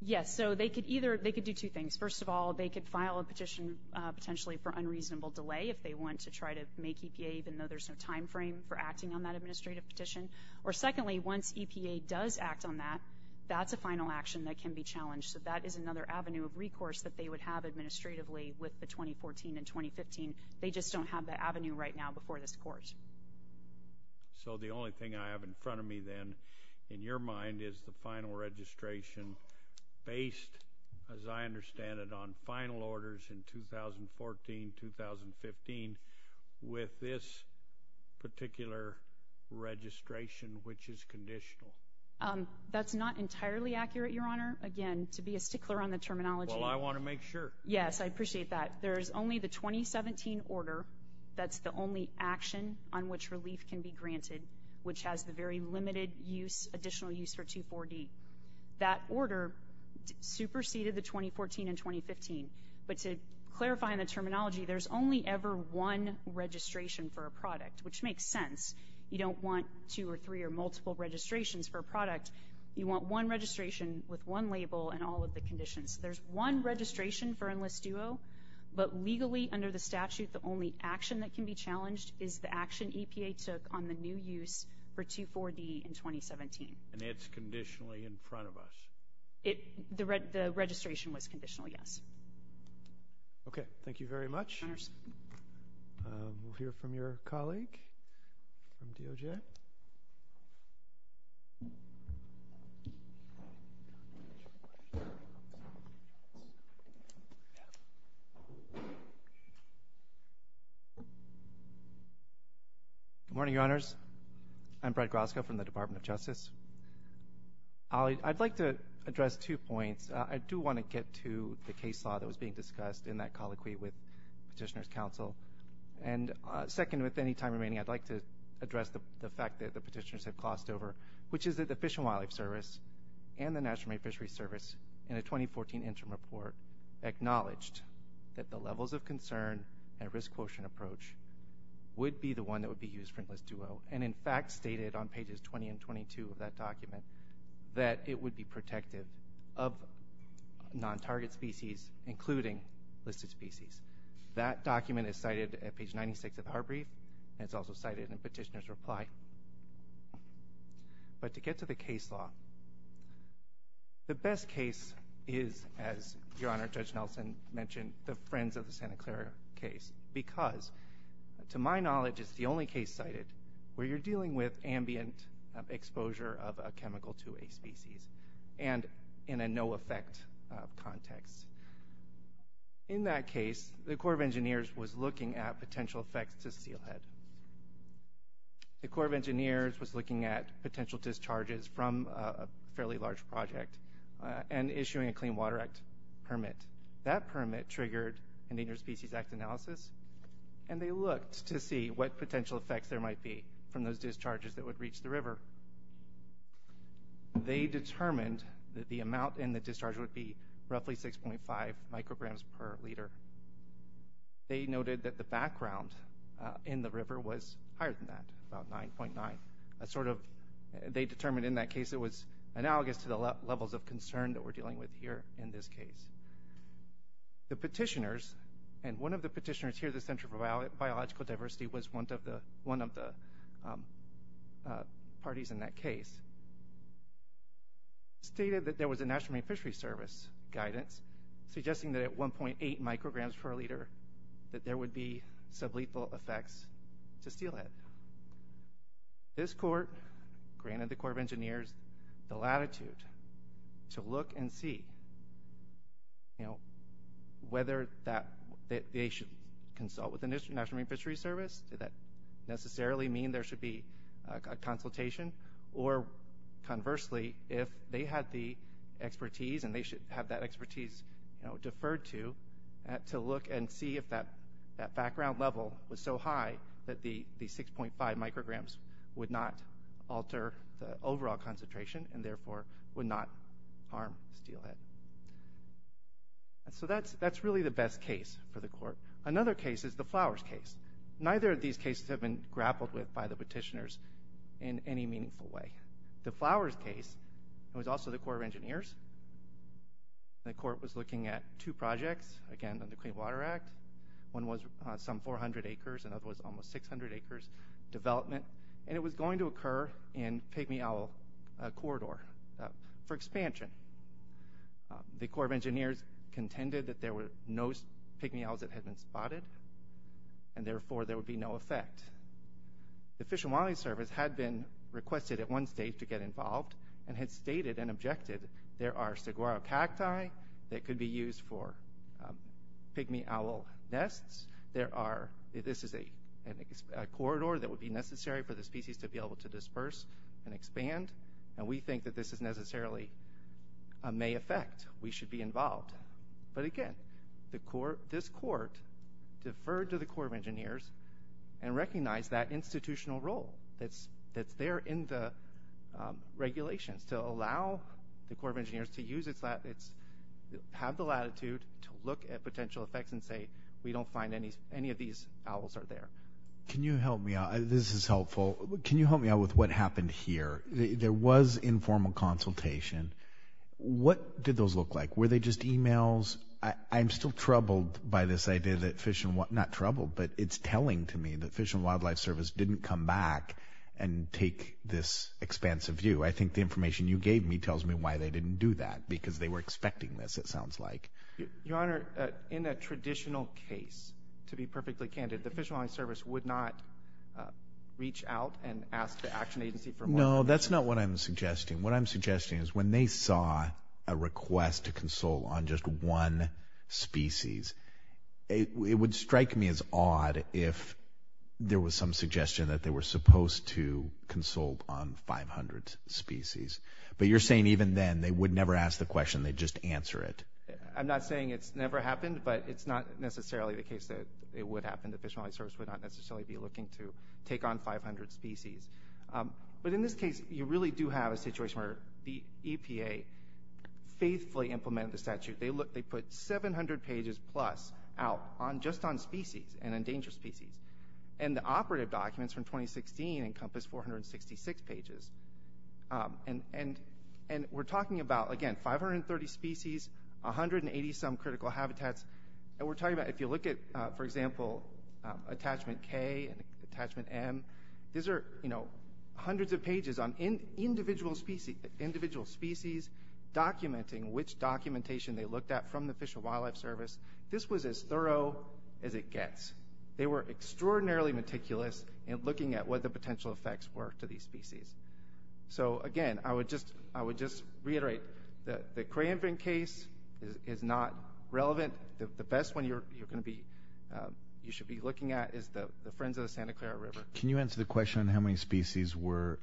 Yes, so they could do two things. First of all, they could file a petition potentially for unreasonable delay if they want to try to make EPA, even though there's no time frame for acting on that administrative petition. Or secondly, once EPA does act on that, that's a final action that can be challenged. So that is another avenue of recourse that they would have administratively with the 2014 and 2015. They just don't have that avenue right now before this Court. So the only thing I have in front of me then, in your mind, is the final registration based, as I understand it, on final orders in 2014-2015 with this particular registration, which is conditional. That's not entirely accurate, Your Honor. Again, to be a stickler on the terminology. Well, I want to make sure. Yes, I appreciate that. There is only the 2017 order that's the only action on which relief can be granted, which has the very limited additional use for 240. That order superseded the 2014 and 2015. But to clarify in the terminology, there's only ever one registration for a product, which makes sense. You don't want two or three or multiple registrations for a product. You want one registration with one label and all of the conditions. There's one registration for Enlist Duo, but legally under the statute, the only action that can be challenged is the action EPA took on the new use for 240 in 2017. And it's conditionally in front of us? The registration was conditional, yes. Okay. Thank you very much. We'll hear from your colleague from DOJ. Good morning, Your Honors. I'm Brad Grosko from the Department of Justice. I'd like to address two points. I do want to get to the case law that was being discussed in that colloquy with Petitioner's Counsel. And second, with any time remaining, I'd like to address the fact that the petitioners have glossed over, which is that the Fish and Wildlife Service and the National Marine Fisheries Service in a 2014 interim report acknowledged that the levels of concern and risk quotient approach would be the one that would be used for Enlist Duo, and in fact stated on pages 20 and 22 of that document that it would be protective of non-target species, including listed species. That document is cited at page 96 of Heartbreath, and it's also cited in Petitioner's Reply. But to get to the case law, the best case is, as Your Honor, Judge Nelson mentioned, the Friends of the Santa Clara case because, to my knowledge, it's the only case cited where you're dealing with ambient exposure of a chemical to a species and in a no-effect context. In that case, the Corps of Engineers was looking at potential effects to steelhead. The Corps of Engineers was looking at potential discharges from a fairly large project and issuing a Clean Water Act permit. That permit triggered an Interspecies Act analysis, and they looked to see what potential effects there might be from those discharges that would reach the river. They determined that the amount in the discharge would be roughly 6.5 micrograms per liter. They noted that the background in the river was higher than that, about 9.9. They determined in that case it was analogous to the levels of concern that we're dealing with here in this case. The petitioners, and one of the petitioners here at the Center for Biological Diversity was one of the parties in that case, stated that there was a National Marine Fisheries Service guidance suggesting that at 1.8 micrograms per liter, that there would be sublethal effects to steelhead. This court granted the Corps of Engineers the latitude to look and see whether they should consult with the National Marine Fisheries Service. Did that necessarily mean there should be a consultation? Or conversely, if they had the expertise, and they should have that expertise deferred to, to look and see if that background level was so high that the 6.5 micrograms would not alter the overall concentration, and therefore would not harm steelhead. So that's really the best case for the court. Another case is the Flowers case. Neither of these cases have been grappled with by the petitioners in any meaningful way. The Flowers case was also the Corps of Engineers. The court was looking at two projects, again, under the Clean Water Act. One was some 400 acres, another was almost 600 acres development, and it was going to occur in Pygmy Owl Corridor for expansion. The Corps of Engineers contended that there were no Pygmy Owls that had been spotted, and therefore there would be no effect. The Fish and Wildlife Service had been requested at one stage to get involved, and had stated and objected there are saguaro cacti that could be used for Pygmy Owl nests. There are, this is a corridor that would be necessary for the species to be able to disperse and expand, and we think that this is necessarily, may affect. We should be involved. But again, this court deferred to the Corps of Engineers and recognized that institutional role that's there in the regulations to allow the Corps of Engineers to have the latitude to look at potential effects and say we don't find any of these owls are there. Can you help me out? This is helpful. Can you help me out with what happened here? There was informal consultation. What did those look like? Were they just emails? I'm still troubled by this idea that Fish and Wildlife, not troubled, but it's telling to me that Fish and Wildlife Service didn't come back and take this expansive view. I think the information you gave me tells me why they didn't do that, because they were expecting this, it sounds like. Your Honor, in a traditional case, to be perfectly candid, the Fish and Wildlife Service would not reach out and ask the action agency for more information. No, that's not what I'm suggesting. What I'm suggesting is when they saw a request to consult on just one species, it would strike me as odd if there was some suggestion that they were supposed to consult on 500 species. But you're saying even then they would never ask the question, they'd just answer it. I'm not saying it's never happened, but it's not necessarily the case that it would happen. The Fish and Wildlife Service would not necessarily be looking to take on 500 species. But in this case, you really do have a situation where the EPA faithfully implemented the statute. They put 700 pages plus out just on species and endangered species. And the operative documents from 2016 encompass 466 pages. And we're talking about, again, 530 species, 180-some critical habitats. If you look at, for example, Attachment K and Attachment M, these are hundreds of pages on individual species, documenting which documentation they looked at from the Fish and Wildlife Service. This was as thorough as it gets. They were extraordinarily meticulous in looking at what the potential effects were to these species. So, again, I would just reiterate that the Cray and Brink case is not relevant. The best one you should be looking at is the Friends of the Santa Clara River. Can you answer the question on how many species were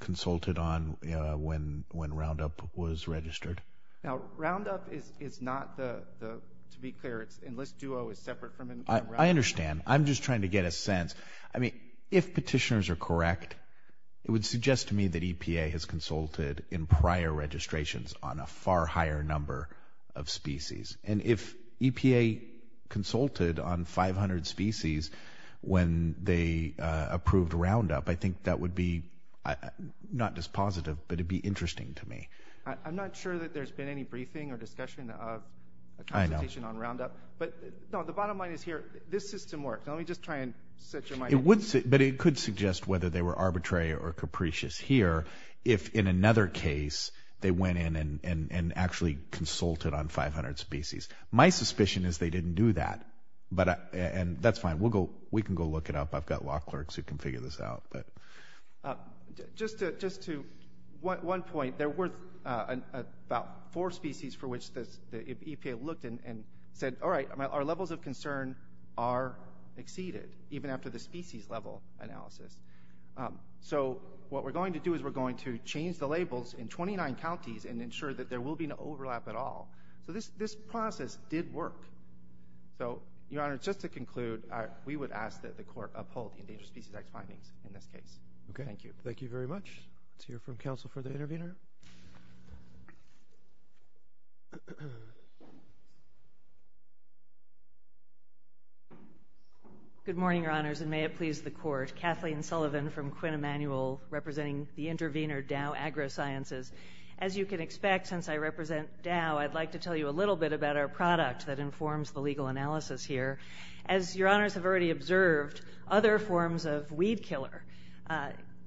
consulted on when Roundup was registered? Now, Roundup is not, to be clear, Enlist Duo is separate from Roundup. I understand. I'm just trying to get a sense. I mean, if petitioners are correct, it would suggest to me that EPA has consulted in prior registrations on a far higher number of species. And if EPA consulted on 500 species when they approved Roundup, I think that would be not just positive, but it would be interesting to me. I'm not sure that there's been any briefing or discussion of a consultation on Roundup. But, no, the bottom line is here. This system works. Let me just try and set your mind at ease. But it could suggest whether they were arbitrary or capricious here if in another case they went in and actually consulted on 500 species. My suspicion is they didn't do that. And that's fine. We can go look it up. I've got law clerks who can figure this out. Just to one point, there were about four species for which the EPA looked and said, all right, our levels of concern are exceeded, even after the species level analysis. So what we're going to do is we're going to change the labels in 29 counties and ensure that there will be no overlap at all. So this process did work. So, Your Honor, just to conclude, we would ask that the Court uphold the Endangered Species Act findings in this case. Thank you. Thank you very much. Let's hear from counsel for the intervener. Good morning, Your Honors, and may it please the Court. Kathleen Sullivan from Quinn Emanuel representing the intervener Dow AgroSciences. As you can expect, since I represent Dow, I'd like to tell you a little bit about our product that informs the legal analysis here. As Your Honors have already observed, other forms of weed killer,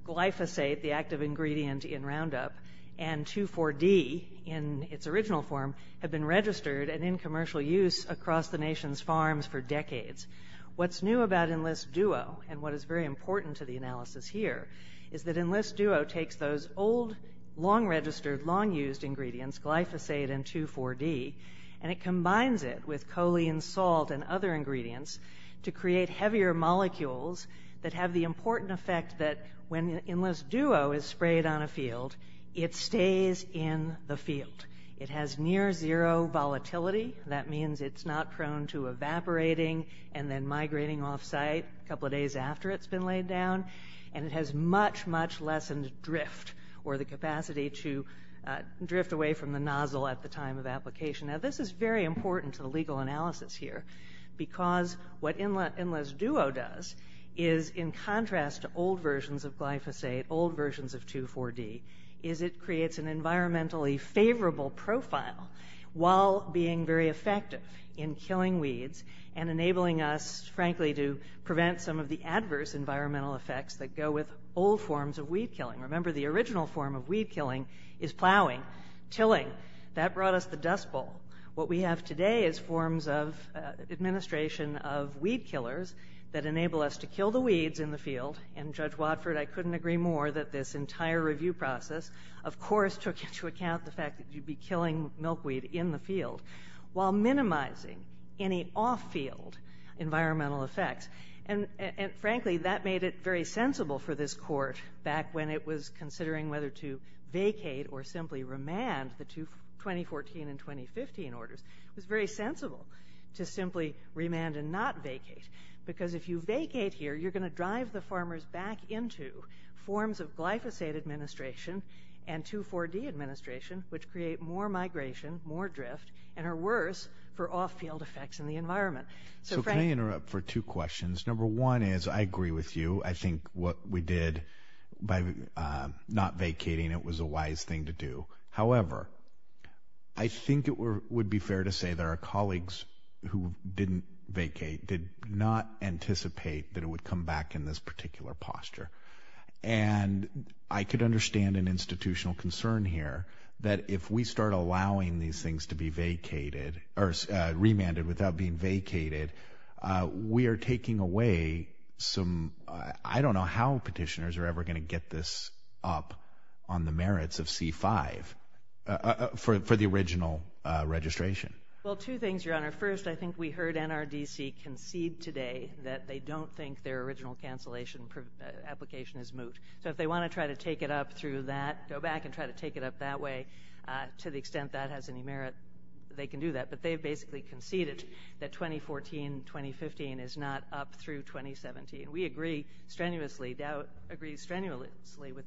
glyphosate, the active ingredient in Roundup, and 2,4-D in its original form have been registered and in commercial use across the nation's farms for decades. What's new about Enlist Duo, and what is very important to the analysis here, is that Enlist Duo takes those old, long-registered, long-used ingredients, glyphosate and 2,4-D, and it combines it with choline salt and other ingredients to create heavier molecules that have the important effect that when Enlist Duo is sprayed on a field, it stays in the field. It has near-zero volatility. That means it's not prone to evaporating and then migrating off-site a couple of days after it's been laid down, and it has much, much lessened drift, or the capacity to drift away from the nozzle at the time of application. Now, this is very important to the legal analysis here, because what Enlist Duo does is, in contrast to old versions of glyphosate, old versions of 2,4-D, is it creates an environmentally favorable profile while being very effective in killing weeds and enabling us, frankly, to prevent some of the adverse environmental effects that go with old forms of weed killing. Remember, the original form of weed killing is plowing, tilling. That brought us the dust bowl. What we have today is forms of administration of weed killers that enable us to kill the weeds in the field, and, Judge Watford, I couldn't agree more that this entire review process, of course, took into account the fact that you'd be killing milkweed in the field while minimizing any off-field environmental effects. And, frankly, that made it very sensible for this court, back when it was considering whether to vacate or simply remand the 2014 and 2015 orders, it was very sensible to simply remand and not vacate, because if you vacate here, you're going to drive the farmers back into forms of glyphosate administration and 2,4-D administration, which create more migration, more drift, and are worse for off-field effects in the environment. So can I interrupt for two questions? Number one is I agree with you. I think what we did by not vacating, it was a wise thing to do. However, I think it would be fair to say that our colleagues who didn't vacate did not anticipate that it would come back in this particular posture. And I could understand an institutional concern here that if we start allowing these things to be vacated or remanded without being vacated, we are taking away some, I don't know how petitioners are ever going to get this up on the merits of C-5 for the original registration. Well, two things, Your Honor. First, I think we heard NRDC concede today that they don't think their original cancellation application is moot. So if they want to try to take it up through that, go back and try to take it up that way, to the extent that has any merit, they can do that. But they have basically conceded that 2014-2015 is not up through 2017. We agree strenuously with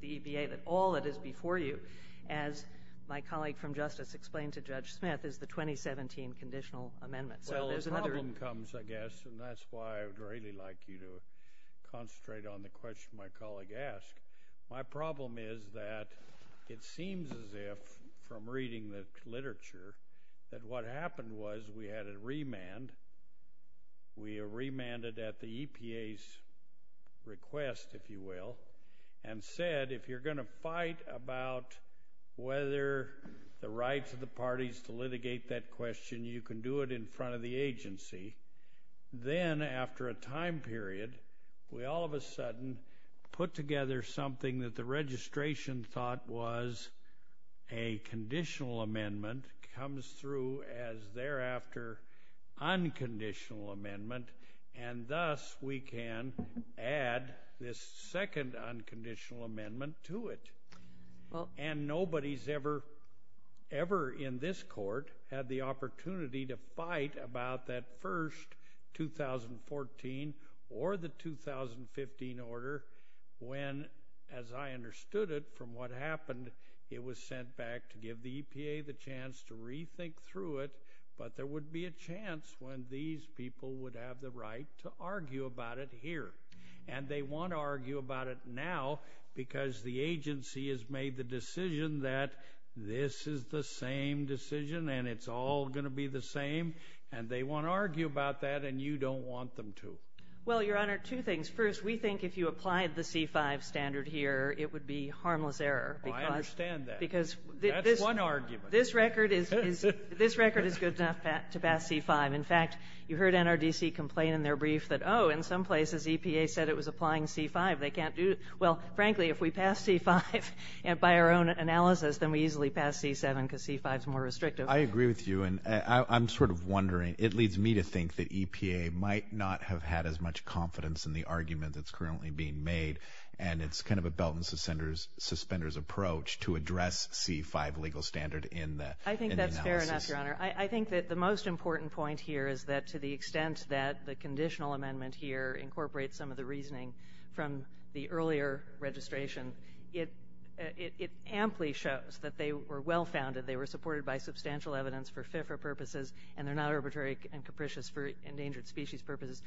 the EPA that all that is before you, as my colleague from Justice explained to Judge Smith, is the 2017 conditional amendment. Well, a problem comes, I guess, and that's why I would really like you to concentrate on the question my colleague asked. My problem is that it seems as if, from reading the literature, that what happened was we had a remand. We remanded at the EPA's request, if you will, and said if you're going to fight about whether the rights of the parties to litigate that question, you can do it in front of the agency. Then, after a time period, we all of a sudden put together something that the registration thought was a conditional amendment, comes through as thereafter unconditional amendment, and thus we can add this second unconditional amendment to it. Nobody's ever in this court had the opportunity to fight about that first 2014 or the 2015 order when, as I understood it from what happened, it was sent back to give the EPA the chance to rethink through it, but there would be a chance when these people would have the right to argue about it here. They want to argue about it now because the agency has made the decision that this is the same decision and it's all going to be the same, and they want to argue about that and you don't want them to. Well, Your Honor, two things. First, we think if you applied the C-5 standard here, it would be harmless error. I understand that. That's one argument. This record is good enough to pass C-5. In fact, you heard NRDC complain in their brief that, oh, in some places EPA said it was applying C-5. They can't do it. Well, frankly, if we pass C-5 by our own analysis, then we easily pass C-7 because C-5 is more restrictive. I agree with you, and I'm sort of wondering. It leads me to think that EPA might not have had as much confidence in the argument that's currently being made, and it's kind of a belt and suspenders approach to address C-5 legal standard in the analysis. I think that's fair enough, Your Honor. I think that the most important point here is that to the extent that the conditional amendment here incorporates some of the reasoning from the earlier registration, it amply shows that they were well-founded, they were supported by substantial evidence for FIFRA purposes, and they're not arbitrary and capricious for endangered species purposes.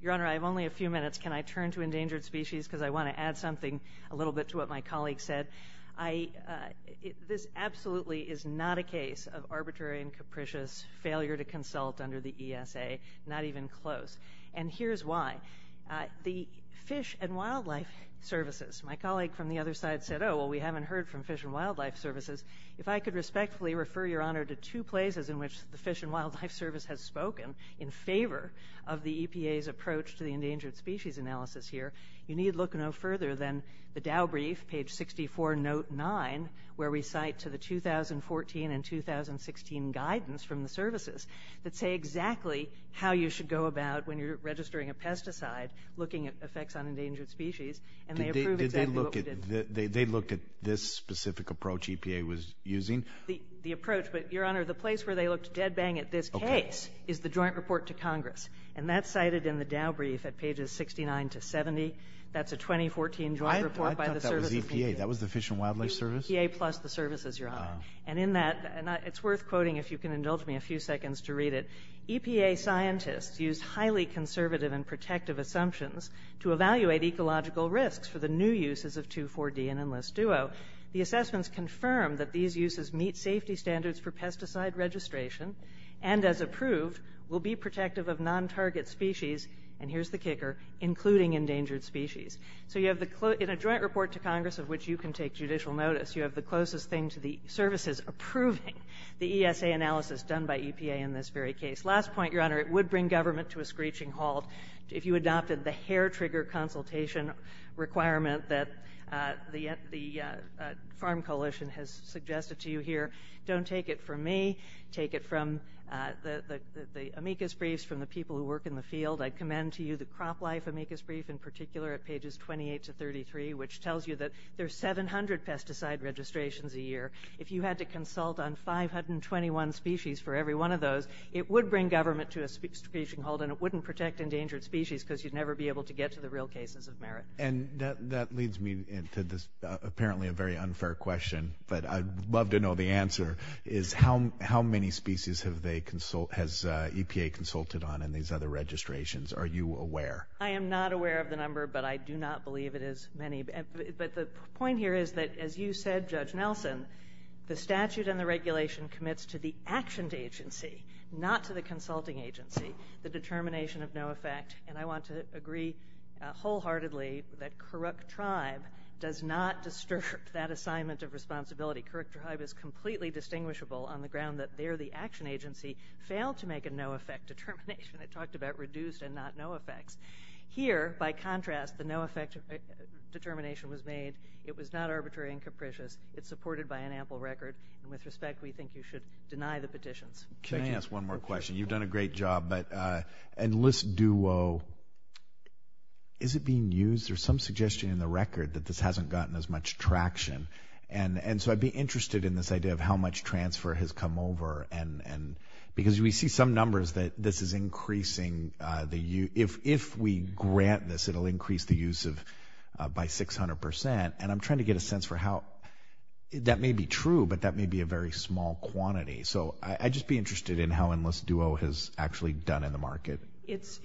Your Honor, I have only a few minutes. Can I turn to endangered species because I want to add something a little bit to what my colleague said? This absolutely is not a case of arbitrary and capricious failure to consult under the ESA, not even close. And here's why. The Fish and Wildlife Services, my colleague from the other side said, oh, well, we haven't heard from Fish and Wildlife Services. If I could respectfully refer Your Honor to two places in which the Fish and Wildlife Service has spoken in favor of the EPA's approach to the endangered species analysis here, you need look no further than the Dow Brief, page 64, note 9, where we cite to the 2014 and 2016 guidance from the services that say exactly how you should go about, when you're registering a pesticide, looking at effects on endangered species. And they approve exactly what we did. Did they look at this specific approach EPA was using? The approach, but Your Honor, the place where they looked dead bang at this case is the Joint Report to Congress. And that's cited in the Dow Brief at pages 69 to 70. That's a 2014 joint report by the services. I thought that was EPA. That was the Fish and Wildlife Service? EPA plus the services, Your Honor. Oh. And in that, it's worth quoting, if you can indulge me a few seconds to read it. EPA scientists used highly conservative and protective assumptions to evaluate ecological risks for the new uses of 2,4-D and Enlist Duo. The assessments confirm that these uses meet safety standards for pesticide registration and, as approved, will be protective of non-target species, and here's the kicker, including endangered species. So you have the, in a joint report to Congress of which you can take judicial notice, you have the closest thing to the services approving the ESA analysis done by EPA in this very case. Last point, Your Honor, it would bring government to a screeching halt if you adopted the hair-trigger consultation requirement that the Farm Coalition has suggested to you here. Don't take it from me. Take it from the amicus briefs from the people who work in the field. I commend to you the crop life amicus brief in particular at pages 28 to 33, which tells you that there's 700 pesticide registrations a year. If you had to consult on 521 species for every one of those, it would bring government to a screeching halt, and it wouldn't protect endangered species because you'd never be able to get to the real cases of merit. And that leads me to apparently a very unfair question, but I'd love to know the answer, is how many species has EPA consulted on in these other registrations? Are you aware? I am not aware of the number, but I do not believe it is many. But the point here is that, as you said, Judge Nelson, the statute and the regulation commits to the actioned agency, not to the consulting agency, the determination of no effect. And I want to agree wholeheartedly that CORUCTRIBE does not disturb that assignment of responsibility. CORUCTRIBE is completely distinguishable on the ground that there the action agency failed to make a no effect determination. It talked about reduced and not no effects. Here, by contrast, the no effect determination was made. It was not arbitrary and capricious. It's supported by an ample record. And with respect, we think you should deny the petitions. Can I ask one more question? You've done a great job. But Enlist Duo, is it being used? There's some suggestion in the record that this hasn't gotten as much traction. And so I'd be interested in this idea of how much transfer has come over. Because we see some numbers that this is increasing. If we grant this, it will increase the use by 600%. And I'm trying to get a sense for how. That may be true, but that may be a very small quantity. So I'd just be interested in how Enlist Duo has actually done in the market. It's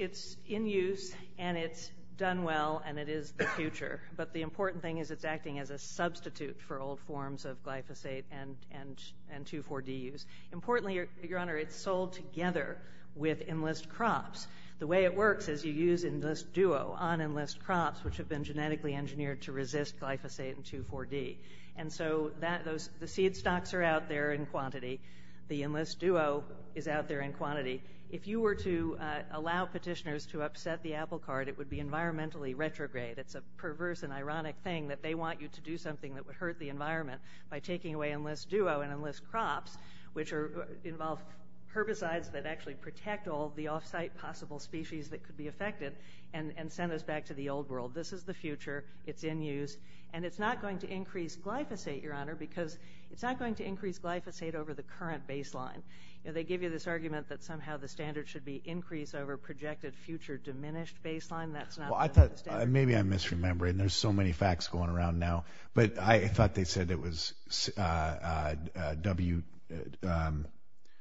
in use, and it's done well, and it is the future. But the important thing is it's acting as a substitute for old forms of glyphosate and 2,4-D use. Importantly, Your Honor, it's sold together with Enlist Crops. The way it works is you use Enlist Duo on Enlist Crops, which have been genetically engineered to resist glyphosate and 2,4-D. And so the seed stocks are out there in quantity. The Enlist Duo is out there in quantity. If you were to allow petitioners to upset the apple cart, it would be environmentally retrograde. It's a perverse and ironic thing that they want you to do something that would hurt the environment by taking away Enlist Duo and Enlist Crops, which involve herbicides that actually protect all the off-site possible species that could be affected and send us back to the old world. This is the future. It's in use. And it's not going to increase glyphosate, Your Honor, because it's not going to increase glyphosate over the current baseline. They give you this argument that somehow the standard should be increase over projected future diminished baseline. That's not the standard. Maybe I'm misremembering. There's so many facts going around now. But I thought they said it was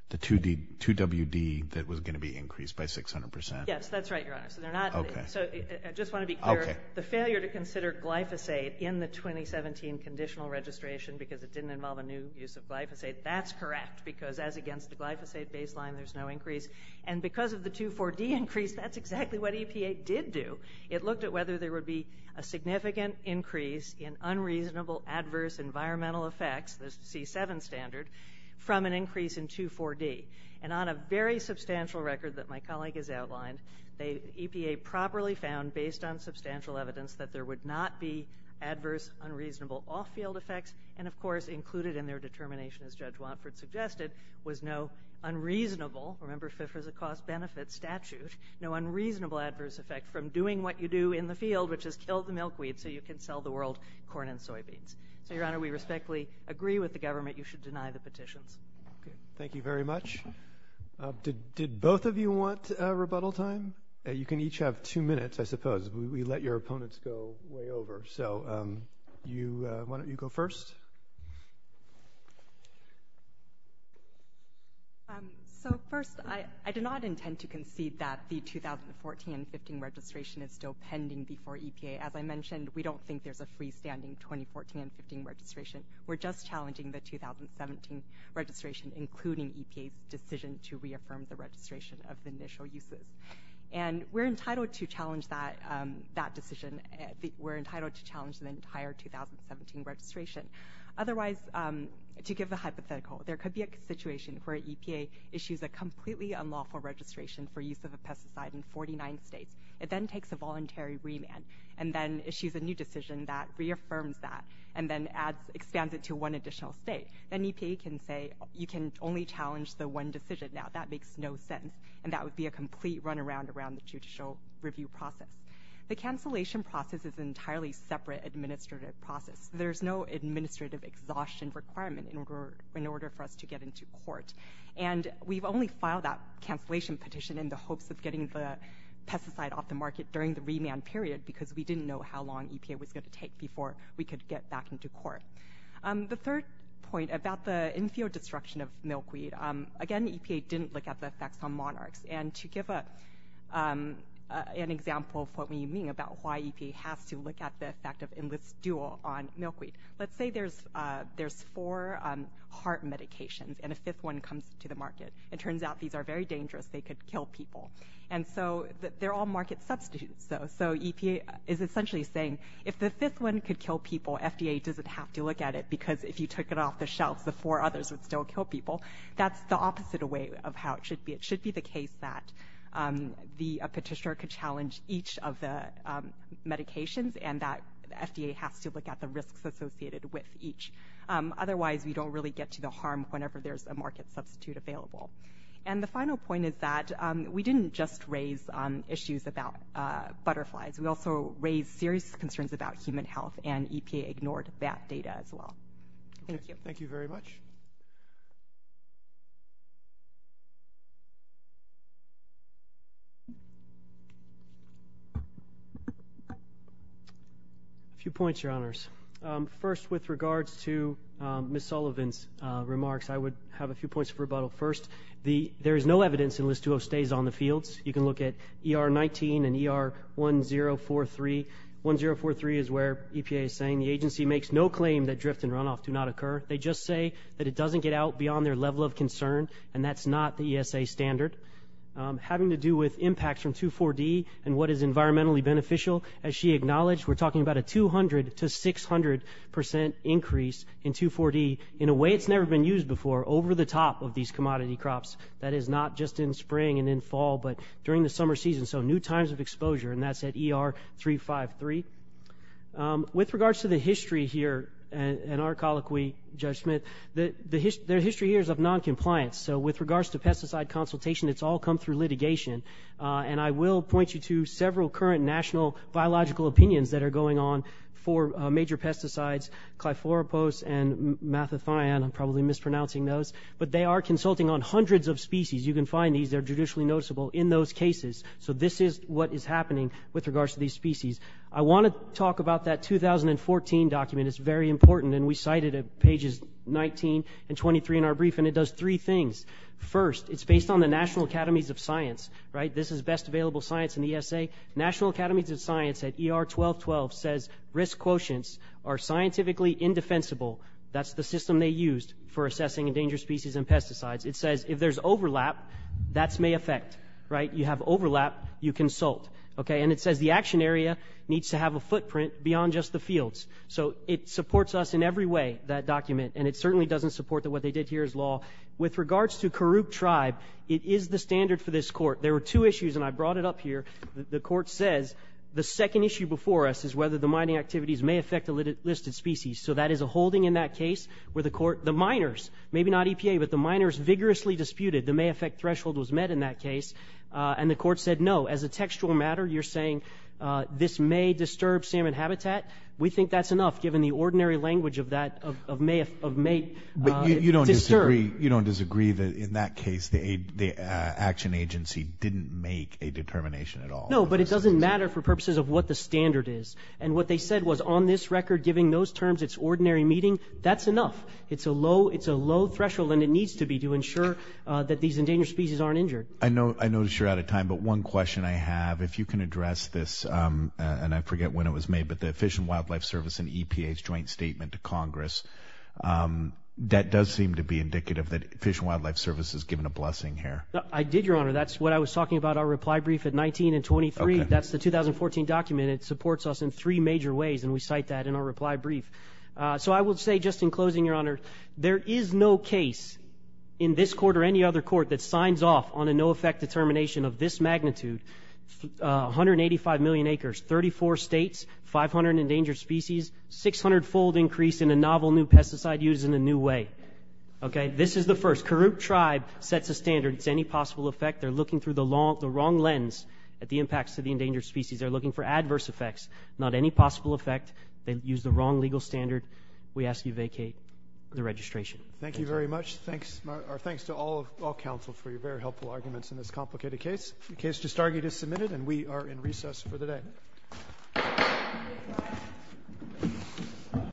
the 2WD that was going to be increased by 600%. Yes, that's right, Your Honor. I just want to be clear. The failure to consider glyphosate in the 2017 conditional registration because it didn't involve a new use of glyphosate, that's correct, because as against the glyphosate baseline, there's no increase. And because of the 2WD increase, that's exactly what EPA did do. It looked at whether there would be a significant increase in unreasonable adverse environmental effects, the C7 standard, from an increase in 2WD. And on a very substantial record that my colleague has outlined, EPA properly found, based on substantial evidence, that there would not be adverse unreasonable off-field effects. And, of course, included in their determination, as Judge Watford suggested, was no unreasonable, remember FIFRA is a cost-benefit statute, no unreasonable adverse effect from doing what you do in the field, which is kill the milkweed so you can sell the world corn and soybeans. So, Your Honor, we respectfully agree with the government. You should deny the petitions. Thank you very much. Did both of you want rebuttal time? You can each have two minutes, I suppose. We let your opponents go way over. So, why don't you go first? So, first, I do not intend to concede that the 2014-15 registration is still pending before EPA. As I mentioned, we don't think there's a freestanding 2014-15 registration. We're just challenging the 2017 registration, including EPA's decision to reaffirm the registration of the initial uses. And we're entitled to challenge that decision. We're entitled to challenge the entire 2017 registration. Otherwise, to give a hypothetical, there could be a situation where EPA issues a completely unlawful registration for use of a pesticide in 49 states. It then takes a voluntary remand and then issues a new decision that reaffirms that and then expands it to one additional state. Then EPA can say, you can only challenge the one decision now. That makes no sense. And that would be a complete runaround around the judicial review process. The cancellation process is an entirely separate administrative process. There's no administrative exhaustion requirement in order for us to get into court. And we've only filed that cancellation petition in the hopes of getting the pesticide off the market during the remand period because we didn't know how long EPA was going to take before we could get back into court. The third point about the infield destruction of milkweed, again, EPA didn't look at the effects on monarchs. And to give an example of what we mean about why EPA has to look at the effect of Enlist Dual on milkweed, let's say there's four heart medications and a fifth one comes to the market. It turns out these are very dangerous. They could kill people. And so they're all market substitutes. So EPA is essentially saying if the fifth one could kill people, FDA doesn't have to look at it because if you took it off the shelves, the four others would still kill people. That's the opposite of how it should be. It should be the case that a petitioner could challenge each of the medications and that FDA has to look at the risks associated with each. Otherwise, we don't really get to the harm whenever there's a market substitute available. And the final point is that we didn't just raise issues about butterflies. We also raised serious concerns about human health, and EPA ignored that data as well. Thank you. Thank you very much. A few points, Your Honors. First, with regards to Ms. Sullivan's remarks, I would have a few points of rebuttal. First, there is no evidence Enlist Dual stays on the fields. You can look at ER-19 and ER-1043. 1043 is where EPA is saying the agency makes no claim that drift and runoff do not occur. They just say that it doesn't get out beyond their level of concern, and that's not the ESA standard. Having to do with impacts from 2,4-D and what is environmentally beneficial, as she acknowledged, we're talking about a 200% to 600% increase in 2,4-D in a way it's never been used before, over the top of these commodity crops. That is not just in spring and in fall, but during the summer season. So new times of exposure, and that's at ER-353. With regards to the history here and our colloquy, Judge Smith, their history here is of noncompliance. So with regards to pesticide consultation, it's all come through litigation. And I will point you to several current national biological opinions that are going on for major pesticides, cliforapose and mathathion. I'm probably mispronouncing those. But they are consulting on hundreds of species. You can find these. They're judicially noticeable in those cases. So this is what is happening with regards to these species. I want to talk about that 2014 document. It's very important, and we cite it at pages 19 and 23 in our brief, and it does three things. First, it's based on the National Academies of Science. This is best available science in the ESA. National Academies of Science at ER-1212 says risk quotients are scientifically indefensible. That's the system they used for assessing endangered species and pesticides. It says if there's overlap, that may affect. You have overlap, you consult. And it says the action area needs to have a footprint beyond just the fields. So it supports us in every way, that document. And it certainly doesn't support that what they did here is law. With regards to Karuk tribe, it is the standard for this court. There were two issues, and I brought it up here. The court says the second issue before us is whether the mining activities may affect a listed species. So that is a holding in that case where the court, the miners, maybe not EPA, but the miners vigorously disputed. The may affect threshold was met in that case, and the court said no. As a textual matter, you're saying this may disturb salmon habitat. We think that's enough, given the ordinary language of may disturb. But you don't disagree that in that case the action agency didn't make a determination at all. No, but it doesn't matter for purposes of what the standard is. And what they said was on this record, given those terms, it's ordinary meeting. That's enough. It's a low threshold, and it needs to be to ensure that these endangered species aren't injured. I know you're out of time, but one question I have, if you can address this, and I forget when it was made, but the Fish and Wildlife Service and EPA's joint statement to Congress, that does seem to be indicative that Fish and Wildlife Service is given a blessing here. I did, Your Honor. That's what I was talking about, our reply brief at 19 and 23. That's the 2014 document. It supports us in three major ways, and we cite that in our reply brief. So I will say just in closing, Your Honor, there is no case in this court or any other court that signs off on a no-effect determination of this magnitude, 185 million acres, 34 states, 500 endangered species, 600-fold increase in a novel new pesticide used in a new way. Okay? This is the first. Kuroop Tribe sets a standard. It's any possible effect. They're looking through the wrong lens at the impacts to the endangered species. They're looking for adverse effects, not any possible effect. They use the wrong legal standard. We ask you vacate the registration. Thank you very much. Our thanks to all counsel for your very helpful arguments in this complicated case. The case to stargate is submitted, and we are in recess for the day.